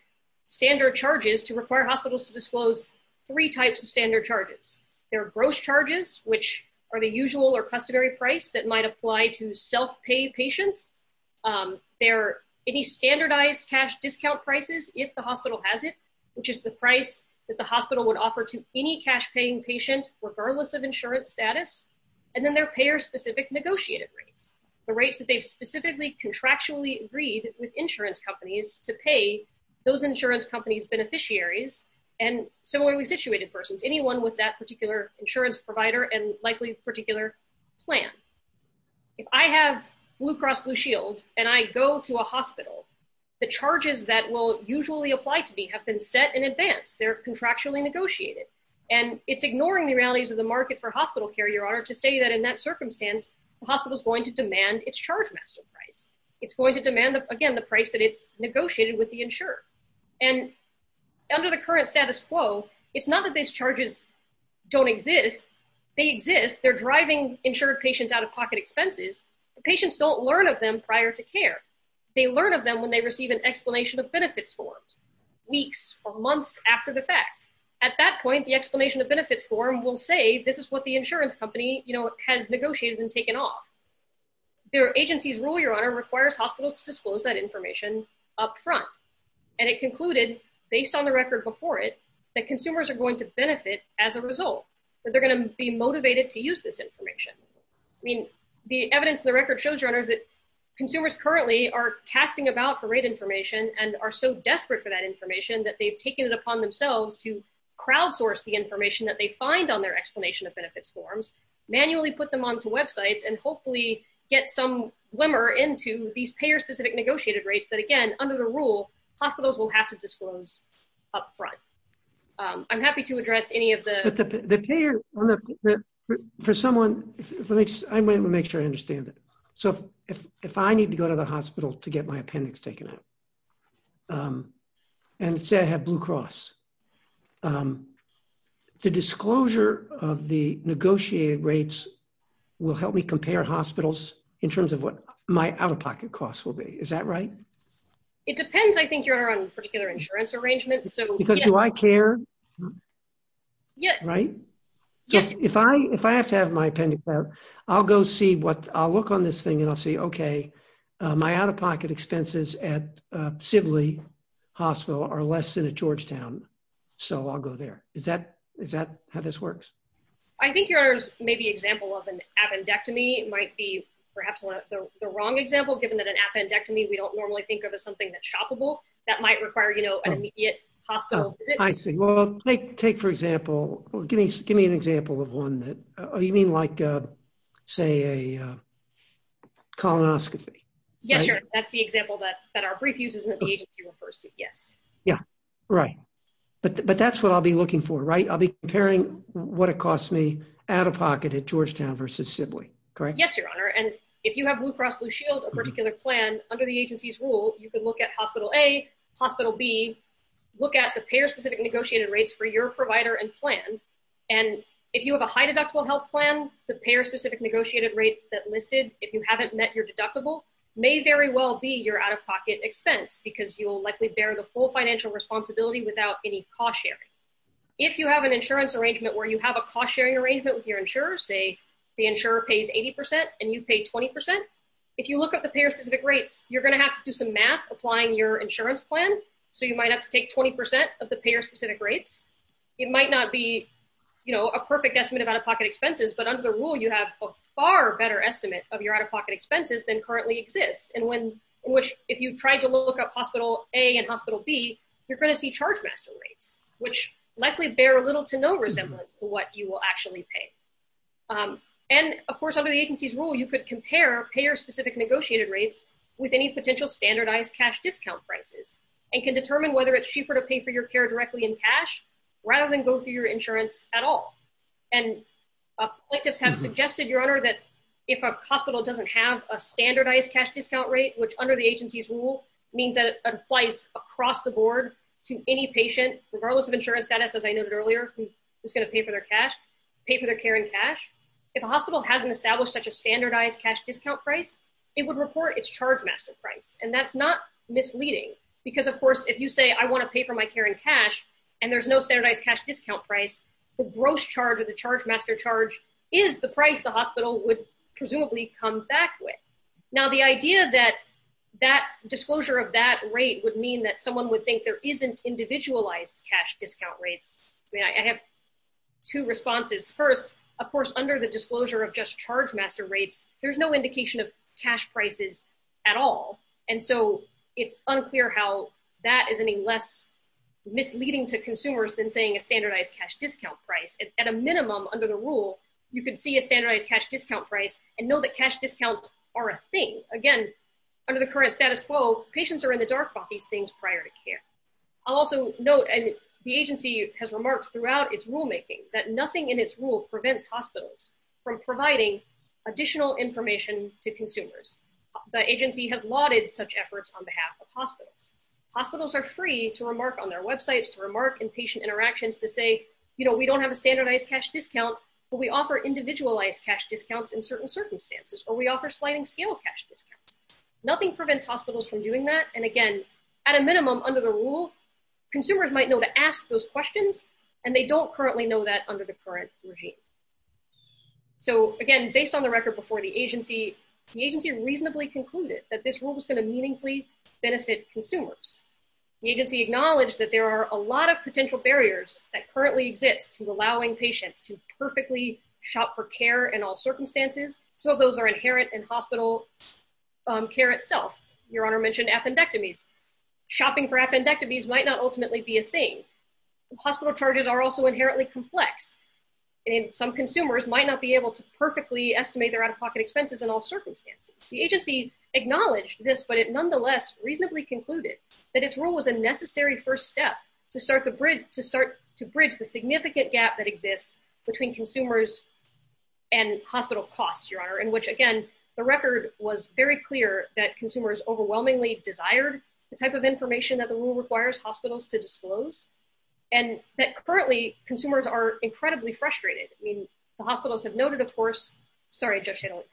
standard charges to require hospitals to disclose three types of standard charges. There are gross charges which are the usual or customary price that might apply to self-pay patients. There are any standardized cash discount prices if the hospital has it which is the price that the hospital would offer to any cash-paying patient regardless of insurance status. And then there are payer-specific negotiated rates, the rates that they specifically contractually agreed with insurance companies to pay those insurance companies' beneficiaries and similarly situated persons, anyone with that particular insurance provider and likely a particular plan. If I have Blue Cross Blue Shield and I go to a hospital, the charges that will usually apply to me have been set in advance. They're contractually negotiated. And it's ignoring the realities of the market for hospital care, Your Honor, to say that in that circumstance the hospital is going to demand its chargemaster price. It's going to demand, again, the price that it negotiated with the insurer. And under the current status quo, it's not that these charges don't exist. They exist. They're driving insured patients out of pocket expenses. Patients don't learn of them prior to care. They learn of them when they receive an explanation of benefit forms weeks or months after the fact. At that point, the explanation of benefit form will say this is what the insurance company has negotiated and taken off. Their agency's rule, Your Honor, requires hospitals to disclose that information up front. And it concluded, based on the record before it, that consumers are going to benefit as a result, that they're going to be motivated to use this information. I mean, the evidence in the record shows, Your Honor, that consumers currently are casting about the right information and are so desperate for that information that they've taken it upon themselves to crowdsource the information that they find on their explanation of benefit forms, manually put them onto websites, and hopefully get some glimmer into these payer-specific negotiated rates that, again, under the rule, hospitals will have to disclose up front. I'm happy to address any of the... The payer, but for someone... I want to make sure I understand it. So if I need to go to the hospital to get my appendix taken out and say I have Blue Cross, the disclosure of the negotiated rates will help me compare hospitals in terms of what my out-of-pocket costs will be. Is that right? It depends, I think, Your Honor, on the particular insurance arrangement, so... Because do I care? Yes. Is that right? Yes. If I have to have my appendix out, I'll go see what... I'll look on this thing and I'll see, okay, my out-of-pocket expenses at Sibley Hospital are less than at Georgetown, so I'll go there. Is that how this works? I think Your Honor's maybe example of an appendectomy might be perhaps the wrong example, given that an appendectomy we don't normally think of as something that's shoppable that might require, you know, an immediate hospital visit. I see. Well, take, for example... Give me an example of one that... You mean like, say, a colonoscopy? Yes, Your Honor. That's the example that our brief uses that the agency refers to. Yes. Yeah. Right. But that's what I'll be looking for, right? I'll be comparing what it costs me out-of-pocket at Georgetown versus Sibley. Correct? Yes, Your Honor. And if you have Blue Cross Blue Shield a particular plan, under the agency's rules, you can look at Hospital A, Hospital B, you can look at the payer-specific negotiated rates for your provider and plan, and if you have a high-deductible health plan, the payer-specific negotiated rates that listed if you haven't met your deductible may very well be your out-of-pocket expense because you will likely bear the full financial responsibility without any cost sharing. If you have an insurance arrangement where you have a cost-sharing arrangement with your insurer, say the insurer pays 80% and you pay 20%, if you look at the payer-specific rates, you're going to have to do some math applying your insurance plan, so you might have to take 20% of the payer-specific rates. It might not be a perfect estimate of out-of-pocket expenses, but under the rule, you have a far better estimate of your out-of-pocket expenses than currently exists, in which, if you try to look at Hospital A and Hospital B, you're going to see charge-master rates, which likely bear a little to no resemblance And, of course, under the agency's rule, you could compare payer-specific negotiated rates with any potential standardized cash discount prices, and you can compare the payer-specific negotiated rates and can determine whether it's cheaper to pay for your care directly in cash rather than go through your insurance at all. And, electives have suggested, Your Honor, that if a hospital doesn't have a standardized cash discount rate, which under the agency's rule means that it applies across the board to any patient, regardless of insurance status, as I noted earlier, who's going to pay for their care in cash, if a hospital hasn't established such a standardized cash discount price, it would report its charge-master price, and that's not misleading, because, of course, if you say, I want to pay for my care in cash, and there's no standardized cash discount price, the gross charge of the charge-master charge is the price the hospital would presumably come back with. Now, the idea that that disclosure of that rate would mean that someone would think there isn't individualized cash discount rates, I mean, I have two responses. First, of course, under the disclosure of just charge-master rates, there's no indication of cash prices at all, and so, it's unclear how that is any less misleading to consumers than saying a standardized cash discount price. At a minimum, under the rule, you can see a standardized cash discount price and know that cash discounts are a thing. Again, under the current status quo, patients are in the dark about these things prior to care. I'll also note, and the agency has remarked throughout its rulemaking that nothing in its rule prevents hospitals from providing additional information to consumers. The agency has lauded such efforts on behalf of hospitals. Hospitals are free to remark on their websites, to remark in patient interactions to say, you know, we don't have a standardized cash discount, but we offer individualized cash discounts in certain circumstances, or we offer sliding-scale cash discounts. Nothing prevents hospitals from doing that, and again, at a minimum, under the rule, consumers might know to ask those questions, and they don't currently know that under the current regime. So, again, based on the record before the agency, the agency reasonably concluded that this rule was going to meaningfully benefit consumers. The agency acknowledged that there are a lot of potential barriers that currently exist to allowing patients to perfectly shop for care in all circumstances. Some of those are inherent in hospital care itself. Your Honor mentioned appendectomies. Shopping for appendectomies might not ultimately be a thing. Hospital charges are also inherently complex, and some consumers might not be able to perfectly estimate their out-of-pocket expenses in all circumstances. The agency acknowledged this, but it nonetheless reasonably concluded that this rule was a necessary first step to start to bridge the significant gap that exists between consumers and hospital costs, Your Honor, in which, again, the record was very clear that consumers overwhelmingly desired the type of information that the rule requires hospitals to disclose, and that currently consumers are incredibly frustrated. I mean, the hospitals have noted, of course, sorry, I just had to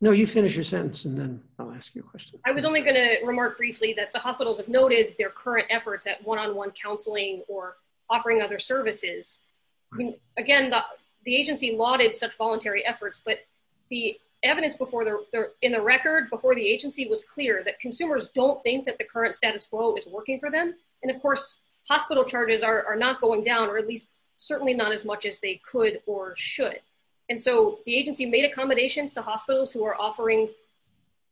No, you finish your sentence and then I'll ask your question. I was only going to remark briefly that the hospitals have noted their current efforts at one-on-one counseling or offering other services. Again, the agency lauded such voluntary efforts, but the evidence in the record before the agency was clear that consumers don't think that the current status quo is working for them, and, of course, hospital charges are not going down or at least certainly not as much as they could or should. And so the agency made accommodations to hospitals who are offering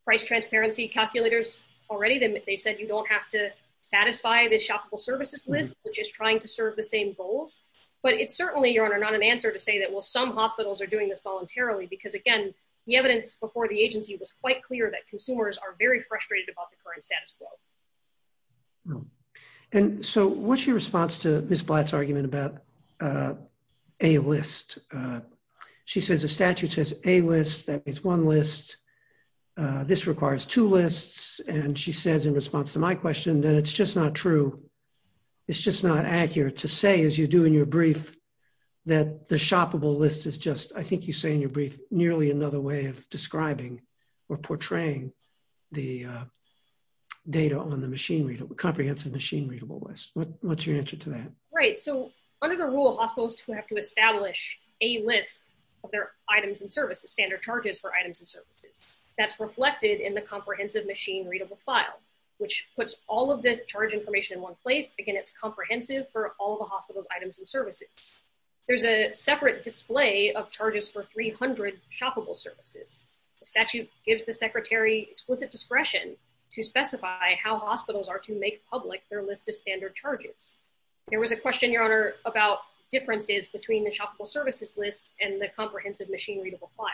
price transparency calculators already and they said you don't have to satisfy the shoppable services list which is trying to serve the same goals, but it's certainly not an answer to say that, well, some hospitals are doing this voluntarily because, again, the evidence before the agency was quite clear that consumers are very frustrated about the current status quo. And so what's your response to Ms. Blatt's argument about a list? She says the statute says a list that is one list. This requires two lists and she says in response to my question that it's just not true. It's just not accurate to say as you do in your brief that the shoppable list is just, I think you say in your brief, nearly another way of describing or portraying the data on the machine comprehensive machine readable list. What's your answer to that? Right. So under the rule of hospitals who have to establish a list of their items and services, standard charges for items and services, that's reflected in the comprehensive machine readable file, which puts all of this charge information in one place. Again, it's comprehensive for all the hospital's items and services. There's a separate display of charges for 300 shoppable services. The statute gives the secretary explicit discretion to specify how hospitals are to make public their list of standard charges. There was a question, your honor, about differences between the shoppable services list and the comprehensive machine readable file.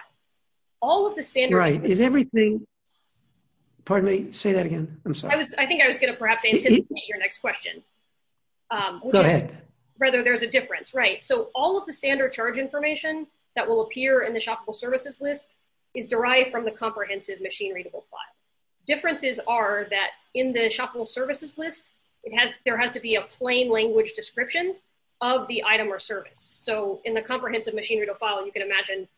All of the standard... Right. Is everything... Pardon me. Say that again. I'm sorry. I think I was going to perhaps anticipate your next question. Go ahead. Rather, there's a difference. Right. So all of the standard charge information that will appear in the shoppable services list is derived from the comprehensive machine readable file. Differences are that in the shoppable services list, there has to be a plain language description of the item or service. So in the comprehensive machine readable file, you can imagine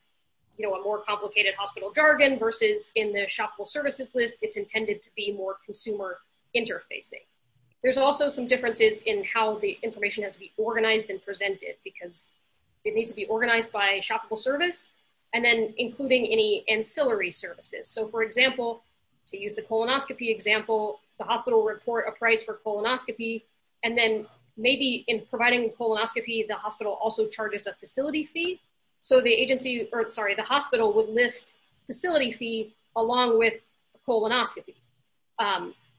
a more complicated hospital jargon versus in the shoppable services list it's intended to be more consumer interfacing. There's also some differences in how the information has to be organized and presented because it needs to be organized by shoppable service and then including any ancillary services. So for example, to use the colonoscopy example, the hospital report a price for colonoscopy and then maybe in providing colonoscopy, the hospital also charges a facility fee. So the agency, or sorry, the hospital would list facility fee along with colonoscopy.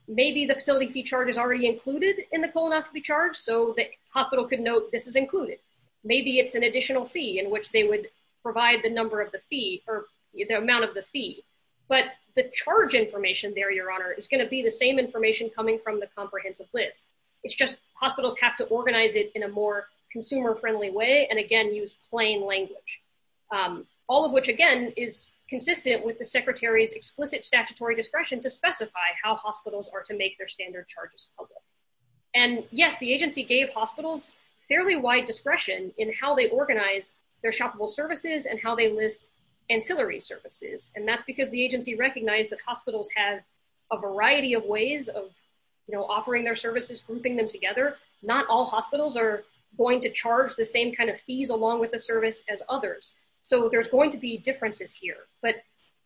Maybe the facility fee charge is already included in the colonoscopy charge could note this is included. Maybe it's an additional fee in which they would provide the number of the fee or the amount of the fee. But the charge for the facility fee charge information there, Your Honor, is going to be the same information coming from the comprehensive list. It's just hospitals have to organize it in a more consumer friendly way and again, use plain language. All of which again is consistent with the secretary's explicit statutory discretion to specify how hospitals are to make their standard charges public. And yes, the agency gave hospitals fairly wide discretion in how they organize their shoppable services and how they list ancillary services. And that's because the agency recognized that hospitals have a variety of ways of, you know, offering their services, grouping them together. Not all hospitals are going to charge the same kind of fees along with the service as others. So there's going to be differences here. But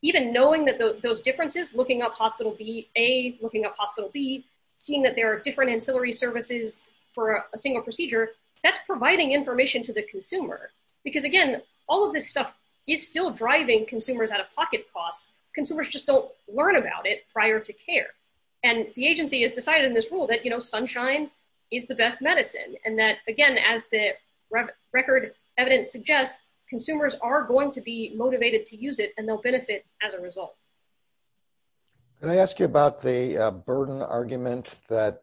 even knowing that those differences looking up hospital B, A, looking up hospital B, seeing that there are different ancillary services for a single procedure, that's providing information to the consumer. Because again, all of this stuff is still driving consumers out of pocket costs because consumers just don't learn about it prior to care. And the agency has decided in this rule that, you know, sunshine is the best medicine. And that, again, as the record evidence suggests, consumers are going to be motivated to use it and they'll benefit as a result. Can I ask you about the burden argument that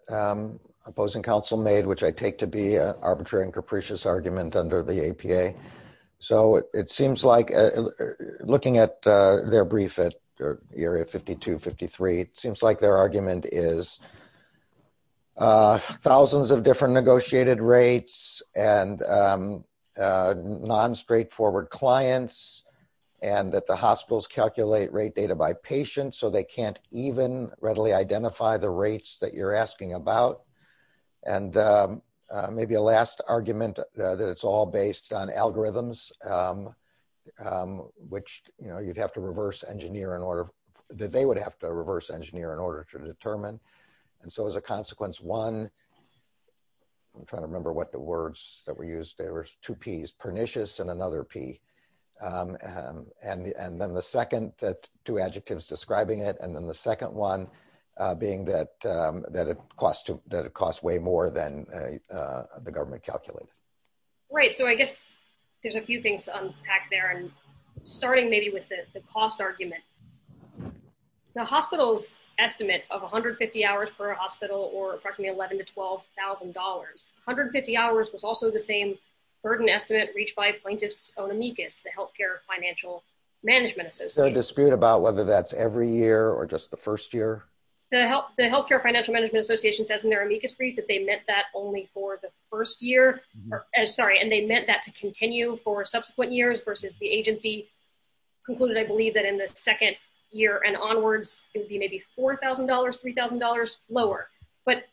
Opposing Council made, which I take to be an arbitrary and capricious argument under the APA? So it seems like looking at their briefing at Area 5253, it seems like their argument is thousands of different negotiated rates and non-straightforward clients and that the hospitals calculate rate data by patient so they can't even readily identify the rates that you're asking a last argument that it's all based on algorithms, which, you know, you'd have to reverse engineer to get the right information to get the right information to reverse engineer in order that they would have to reverse engineer in order to determine and so as a consequence one, I'm trying to remember what the words that were used there were two P's pernicious and another P and then the second that two adjectives describing it and then the second one being that that it costs way more than the government calculates. Right, so I guess there's a few things to unpack there and starting maybe with the cost argument the hospital estimate of 150 hours per hospital or approximately $11,000 to $12,000 150 hours was also the same burden estimate reached by Plaintiff's own amicus the Healthcare Financial Management Association There's no dispute about whether that's every year or just the first year the Healthcare Financial Management Association says in their amicus brief that they meant that only for the first year sorry and they meant that to continue for subsequent years versus the agency concluded I believe that in the second year and onwards it would be maybe $4,000 $3,000 lower but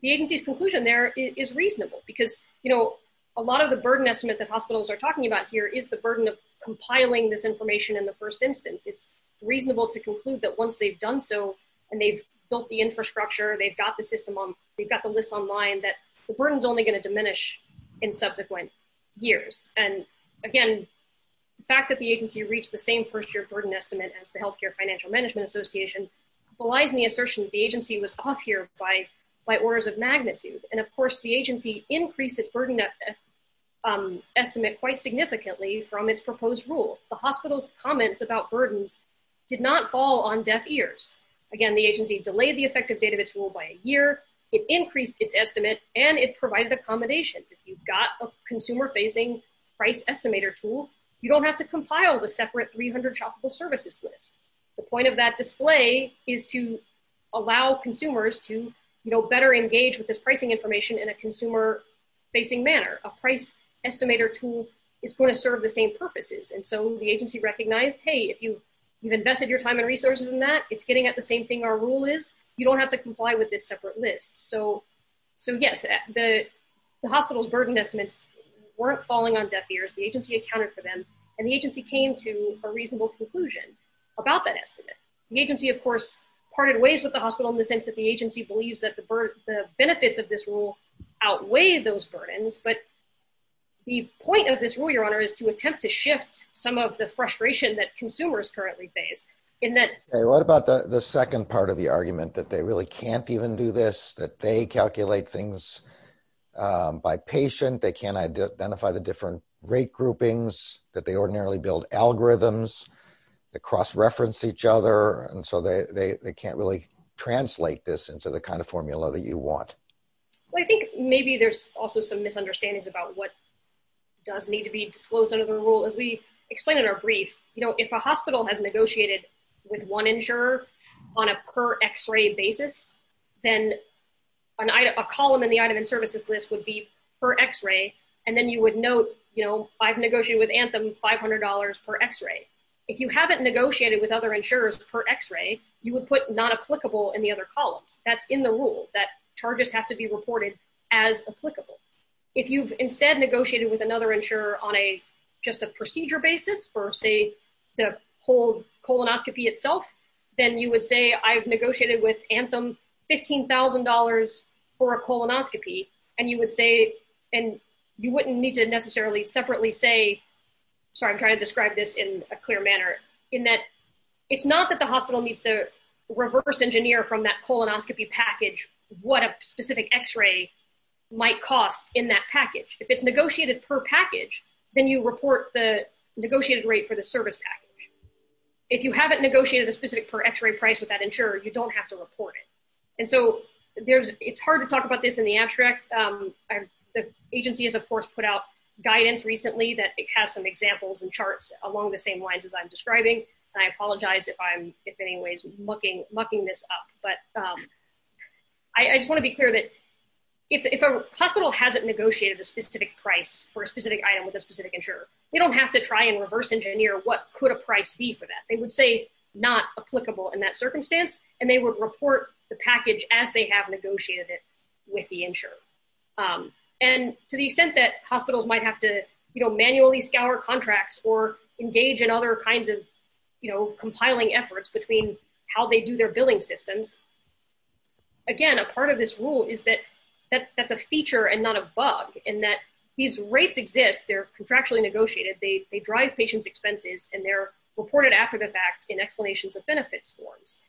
the agency's conclusion there is reasonable because you know a lot of the burden estimates that hospitals are talking about here is the burden of compiling this information in the first instance it's reasonable to conclude that once they've done so and they've built the infrastructure they've got the system they've got the list online that the burden is only going to diminish in subsequent years and again the fact that the agency reached the same first year burden estimate as the Healthcare Financial Management Association belies the assertion that the agency was off here by orders of magnitude and of course its burden estimate quite significantly from its proposed rule the hospital's comments about burden did not fall on deaf ears again the agency delayed the effective database rule by a year it increased its estimate and it provided accommodations if you've got a consumer facing price estimator tool you don't have to compile the separate 300 shoppable services list the point of that display is to allow consumers to better engage with this pricing information in a consumer facing manner a price estimator tool is going to serve the same purposes and so the agency recognized hey if you've invested your time and resources in that it's getting at the same thing our rule is you don't have to comply with this separate list so yes the hospital's burden estimates weren't falling on deaf ears the agency accounted for them and the agency came to a reasonable conclusion about that estimate the agency of course parted ways with the hospital in the sense that the agency believes that the benefits of this rule outweigh those burdens but the point of this rule your honor is to attempt to shift some of the frustration that consumers currently face in that what about the second part of the argument that they really can't even do this that they calculate things by patient they can't identify the different rate groupings that they ordinarily build algorithms that cross reference each other and so they can't really translate this into the kind of formula that you want I think maybe there's also some misunderstandings about what does need to be disclosed under the rule as we explain in our brief if a hospital has negotiated with one insurer on a per x-ray basis then a column in the item and services list would be per x-ray and then you would note I've negotiated with Anthem $500 per x-ray if you haven't negotiated with other insurers per x-ray you would put not applicable in the other columns that's in the rule that charges have to be reported as applicable if you've instead negotiated with another insurer on a just a procedure basis or say the whole colonoscopy itself then you would say I've negotiated with Anthem $15,000 for a colonoscopy and you would say and you wouldn't need to necessarily separately say sorry I'm trying to describe this in a clear manner in that it's not that the hospital needs to reverse engineer from that colonoscopy package what a specific x-ray might cost in that package if it's negotiated per package then you report the negotiated rate for the service package if you haven't negotiated a specific for x-ray price with that insurer you don't have to report it and so there's it's hard to talk about this in the abstract the agency has of course put out guidance recently that it has some examples and charts along the same lines as I'm describing and I apologize if I'm if in any ways mucking this up but I just want to be clear that if a hospital hasn't negotiated a specific price for a specific item with a specific insurer they don't have to try and reverse engineer what could a price be for that they would say not applicable in that circumstance and they would report the package as they have negotiated it with the insurer and to the extent that hospitals might have to you know manually scour contracts or engage in other kinds of you know compiling efforts between how they do their billing systems again a part of this rule is that that's a feature and not a bug and that these rates exist they're contractually negotiated they drive patients expenses and they're reported after the fact in explanations of benefits forms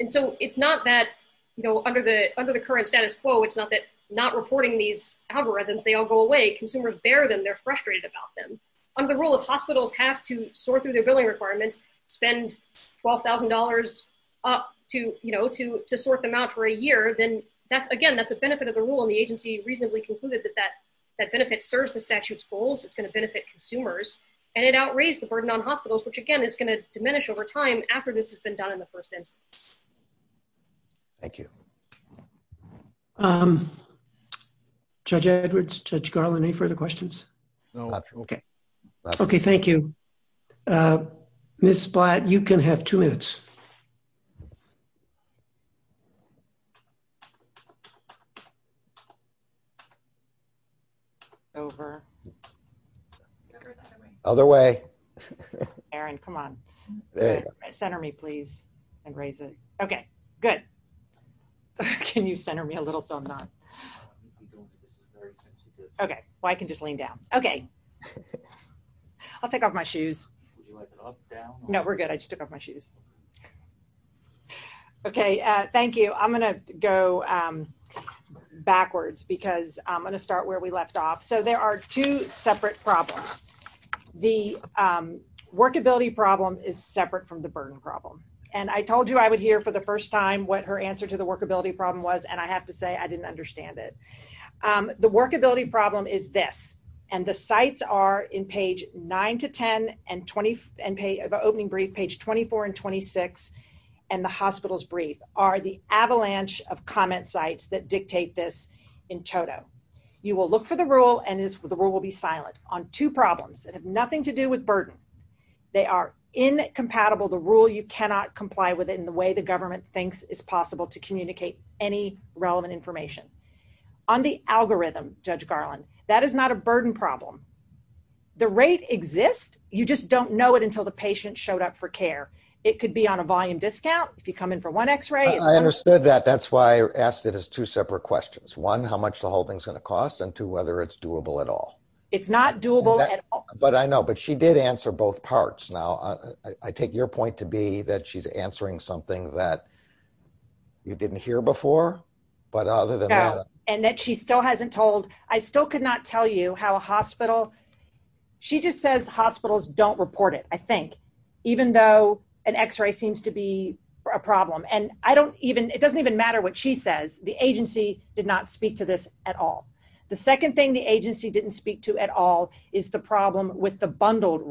and so it's not that you know under the under the current status quo it's not that they're not reporting these algorithms they all go away consumers bear them they're frustrated about them under the rule if hospitals have to sort through their billing requirements spend $12,000 up to you know to sort them out for a year then that's again that's a benefit of the rule and the agency reasonably concluded that that benefit serves the statute's goals it's going to benefit consumers and it outraged the burden on hospitals which again is going to diminish over time after this has been done in the first instance thank you um Judge Edwards Judge Garland any further questions no questions okay okay thank you uh Ms. Blatt you can have two minutes over other way Aaron come on there center me please and raise it okay good can you center me a little so I'm not okay well I can just lean down okay I'll take off my shoes no we're good I just took off my shoes okay uh thank you I'm gonna go um backwards because I'm gonna start where we left off so there are two separate problems the um workability problem the workability problem is separate from the burden problem and I told you I would hear for the first time what her answer to the workability problem was and I have to say I didn't understand it um the workability problem is this and the sites are in page 9 to 10 and 20 and the opening brief page 24 and 26 and the hospitals brief are the avalanche of comment sites that dictate this in total you will look for the rule and the rule will be silent on two problems that have nothing to do with burden they are incompatible the rule you cannot comply with it in the way the government thinks it is possible to communicate any relevant information on the algorithm that is not a burden problem the rate exists you don't know it until the patient showed up for care it could be on a volume discount if you come in and you ask the patient how much is it going to cost and whether it is doable at all it is not doable she did answer both parts I take your point to be that she is answering something that you didn't hear before and that she still hasn't told I still doesn't matter what she says the agency didn't speak to this at all the second thing the agency didn't speak to is the problem with the bundled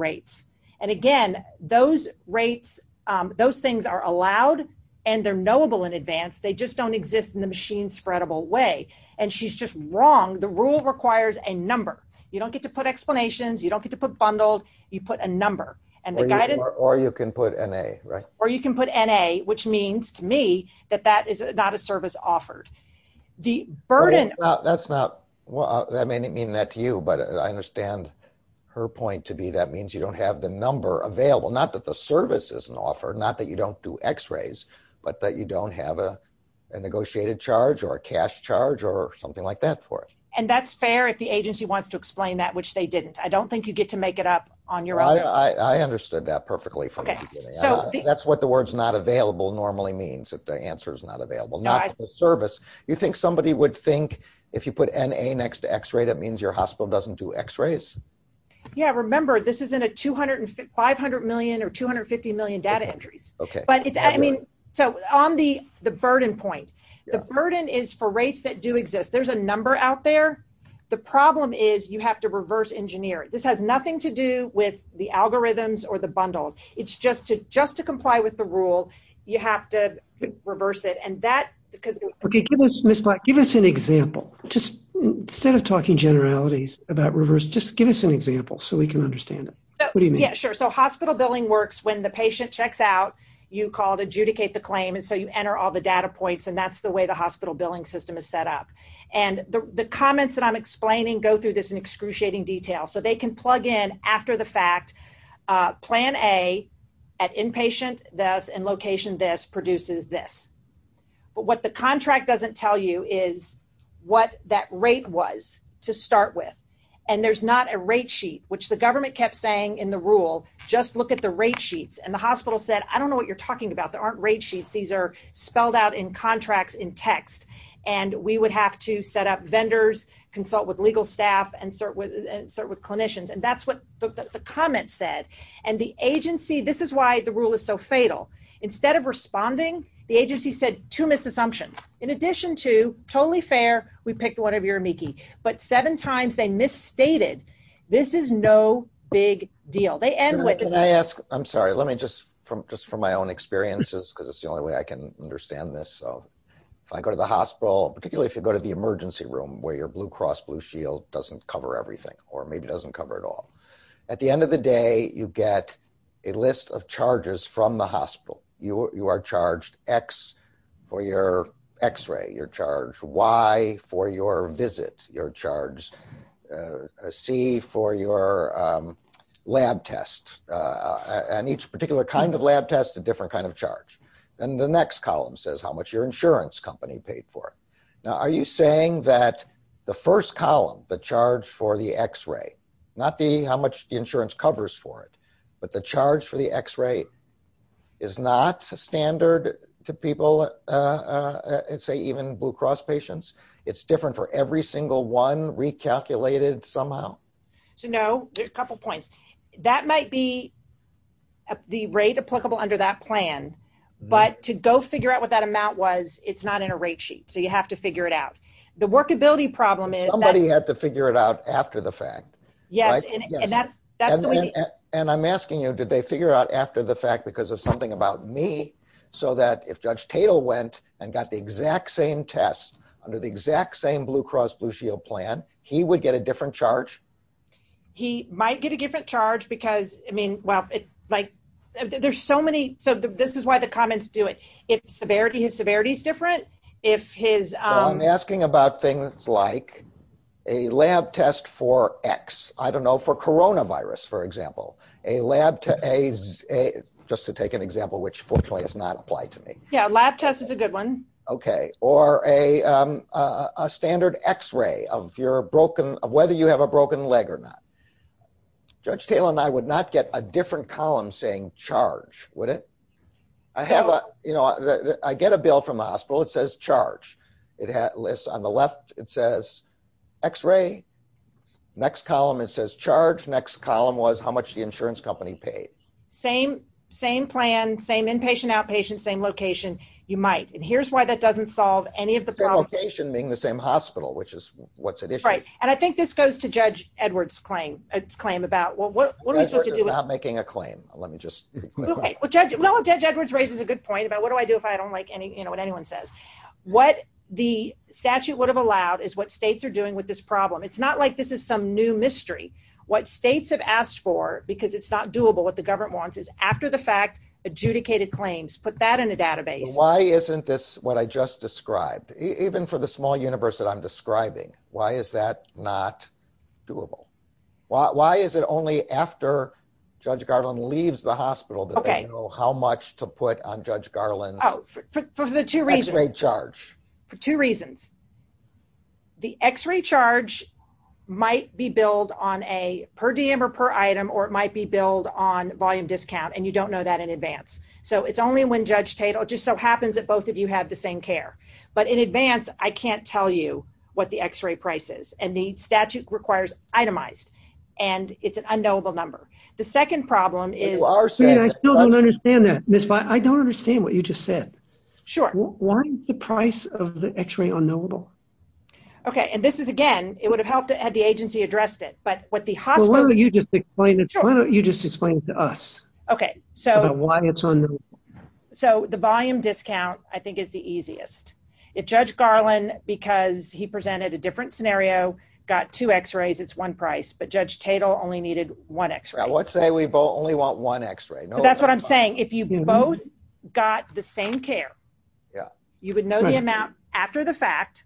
things are allowed and knowable in advance they don't exist in the machine spreadable way the rule requires a number you don't get to put a on it and that is not a service offered the burden that is not I understand her point to be that means you don't have the number available not that the service is not offered not that you don't do x-rays but that you don't have a negotiated charge or that means the answer is not available not the service you think somebody would think if you put NA next to x-ray it means your hospital doesn't do x-rays remember this isn't a 250 million data entry on the burden point the burden is for rates that do exist there's a number out there the problem is you have to reverse engineer this has nothing to do with the algorithms or the bundle just to comply with the rule you have to reverse it give us an example instead of talking generalities give us an example so we can understand hospital billing works when the patient checks out you call adjudicate and that's the way the hospital billing system is set up the comments go through this in excruciating detail they can plug in after the fact plan A produces this what the contract doesn't tell you is what that rate was to start with there's not a rate sheet which the government kept saying just look at the rate sheets I don't know what you're talking about these are spelled out in contracts in text we would have to set up vendors consult with clinicians that's what the comment said the agency this is why the rule is so fatal instead of responding the agency said two misassumptions in addition to totally fair we picked whatever you're amici seven times they misstated this is no big deal they end with this from my own experience it's the only way I can understand this if you go to the emergency room doesn't cover everything at the end of the day you get a list of charges from the hospital you are charged x for x-ray y for visit c for lab test each particular kind of lab test different charge next column insurance company paid for are you saying first column charge for x-ray not how much insurance covers for it but charge for x-ray is not standard to people say even blue cross patients it's different for every single one recalculated somehow couple points that might be the rate applicable under that plan but to go figure out what that amount was it's not in a rate sheet you have to figure it out workability problem somebody had to figure it out after the fact I'm asking you did they figure out after the fact because of something about me so if judge Tatel went and got the same test he would get a different charge? He might get a different charge because this is why the comments do it. Severity is different. I'm asking about things like a lab test for x for coronavirus for example just to take an example which does not apply to me. Or a standard x-ray of whether you have a broken leg or not. Judge Tatel and I would not get a different column saying charge. I get a bill from the hospital it says charge. On the left it says x-ray. Next column it says charge. Next column how much the insurance company paid. Same plan, same inpatient, location. I think this goes to judge Edwards claim. Judge Edwards raises a good point what do I do if I don't like what anyone says. What states have allowed is what states are doing with this problem. What states have asked for is after the fact adjudicated claims. Put that in the database. Why is that not doable? Why is it only after judge Garland leaves the hospital that they know how much to put on judge Garland x-ray charge. Two reasons. The x-ray charge might be billed on per item or volume discount and know that in advance. It only happens if both of you have the same care. In advance I can't tell you what the x-ray price is. The statute requires itemized. It's an unknowable number. The second problem is I don't understand what you just said. Why is the price of the x-ray unknowable? It would have helped if the agency addressed it. Why don't you explain it to us. The volume discount is the easiest. If judge Garland got two x-rays it's one price. Judge Tatel only needed one x-ray. If you both got the same care you would know the amount after the fact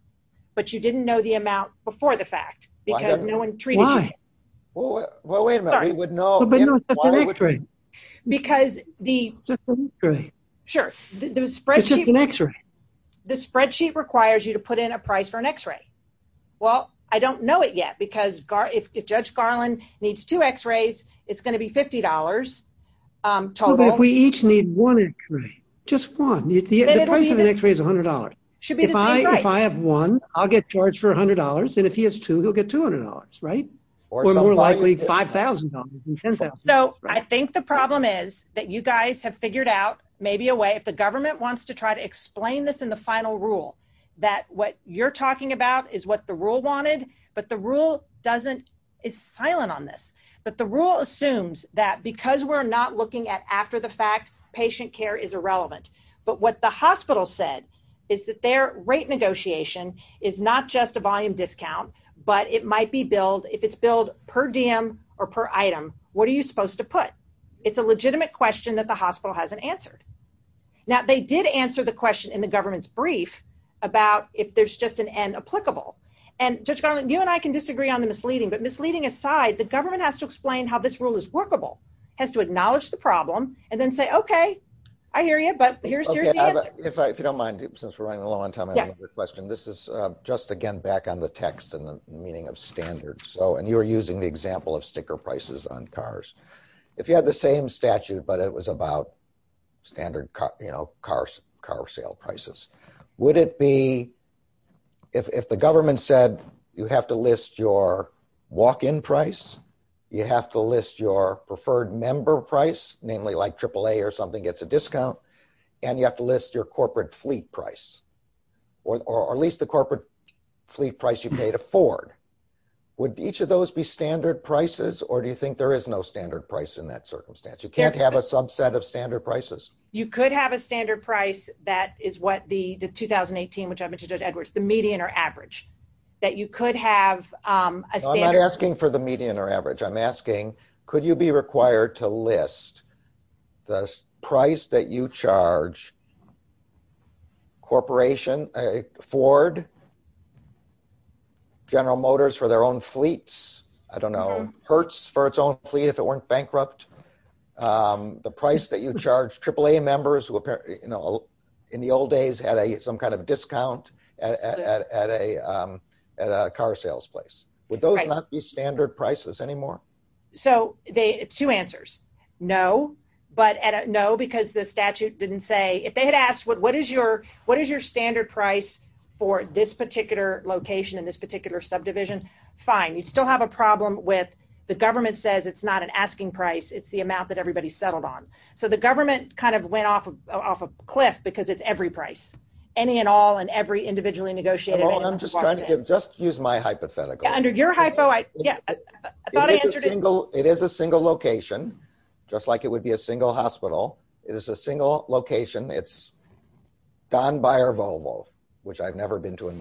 but you didn't know the amount before the fact. Why? Wait a minute. We would know. The spreadsheet requires you to put in a price for an x-ray. I don't know it yet. If judge Garland needs two x-rays it's going to be $50. If we each need one x-ray it's $100. If I have one I'll get charged for $100. If he has two x-rays he'll get $200. Or more likely $5,000. I think the problem is you guys have figured out if the government wants to explain this in the final rule. It's silent on this. The rule assumes because we're not looking at after the fact patient care is irrelevant. But what the hospital said is their rate negotiation is not just a volume discount but if it's billed per item what are you supposed to put? It's a legitimate question. They did answer the question in the government's brief about if there's just an N applicable. The government has to explain how to do that. If you have the same statute but it was about standard car sale prices, would it be if the government list your walk-in price, you have to list your preferred member price like triple A or something gets a discount, you have to list the corporate fleet price or at least the corporate fleet price you pay to Ford. Would each of those be standard prices or do you think there is no standard price in that circumstance? You can't have a subset of standard prices. You could have a standard price that is the median or average. I'm not sure. I'm not sure. Would you charge Ford, General Motors for their own fleets, I don't know, Hertz for its own fleet if it weren't bankrupt, the price that you charge triple A members in the old days had some kind of discount at a car sales place. Would those not be standard prices anymore? Two answers. No. No because the statute didn't say if they asked what is your standard price for this particular location, fine. You still have a problem with the government says it's not an asking price, it's the amount that everybody settled on. The government went off a cliff because it's every price. Any and all. I'm just trying to hypothetical. It is a single location, just like it would be a single hospital. Don Buyer Volvo, which I've never been to. What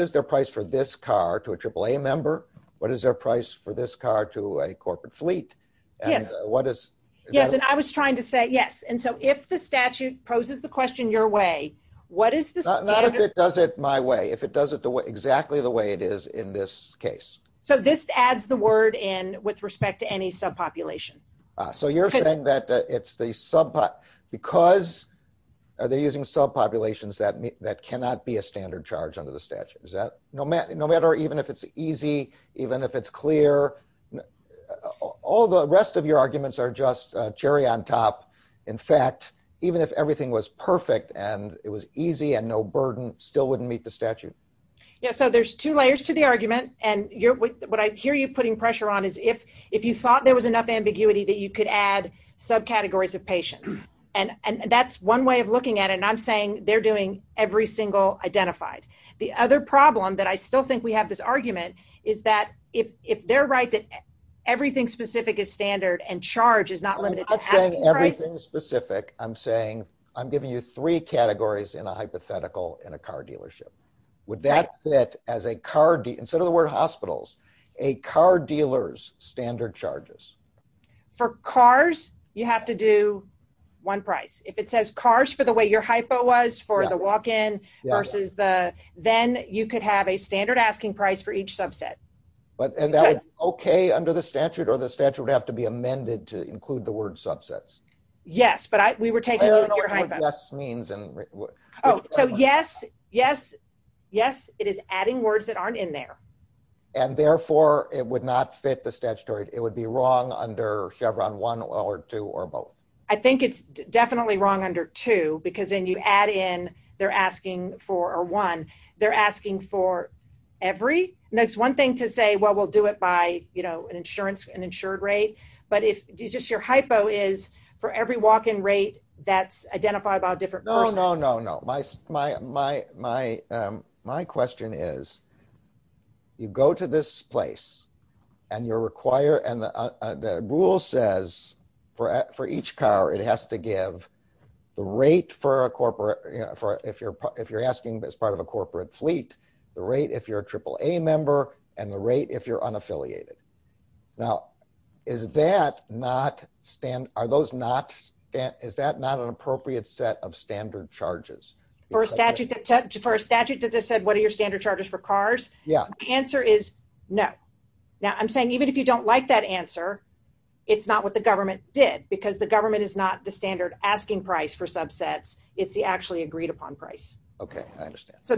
is their price for this car to a triple A member? What is their price for this car to a corporate fleet? I was trying to say yes. If the statute poses the question your way. Not if it does it my way. If it does it exactly the way it is in this case. This adds the word with respect to any subpopulation. You are saying because they are using subpopulations that cannot be a standard charge under the statute. No matter if it's easy, clear, all the rest of your arguments are cherry on top. Even if everything was perfect and easy and no burden would not meet the statute. There are two layers. If you thought there was enough ambiguity you could add subcategories of patients. That is one way of looking at it. They are doing every single identified. The other problem is if they are right that everything specific is standard and charge is not limited to patients. I am giving you three categories in a hypothetical in a car dealership. Would that fit as a car dealers standard charges? For cars you have to do one price. If it says cars for the way your hypo was then you could have a standard asking price for each subsets. Yes. Yes. It is adding words that are not in there. Therefore it would not fit the statutory. It would be wrong under Chevron 1 or 2. I think it is wrong under 2. They are asking for every. It is one thing to say we will do it by standard and insurance and insured rate. Your hypo is for every walk in rate that is identified. My question is you go to this place and you are required and the rule says for each car it has to give the rate for corporate fleet, the rate if you are a triple A member and the rate if you are unaffiliated. Is that not an appropriate set of standard charges? For a statute that says what are your standard charges for cars, the answer is no. Even if you don't like that answer, it is not what the government did. It is not what the answer. is not what the government did. I am saying it is not an appropriate answer. I have no objection to that answer. Thank you.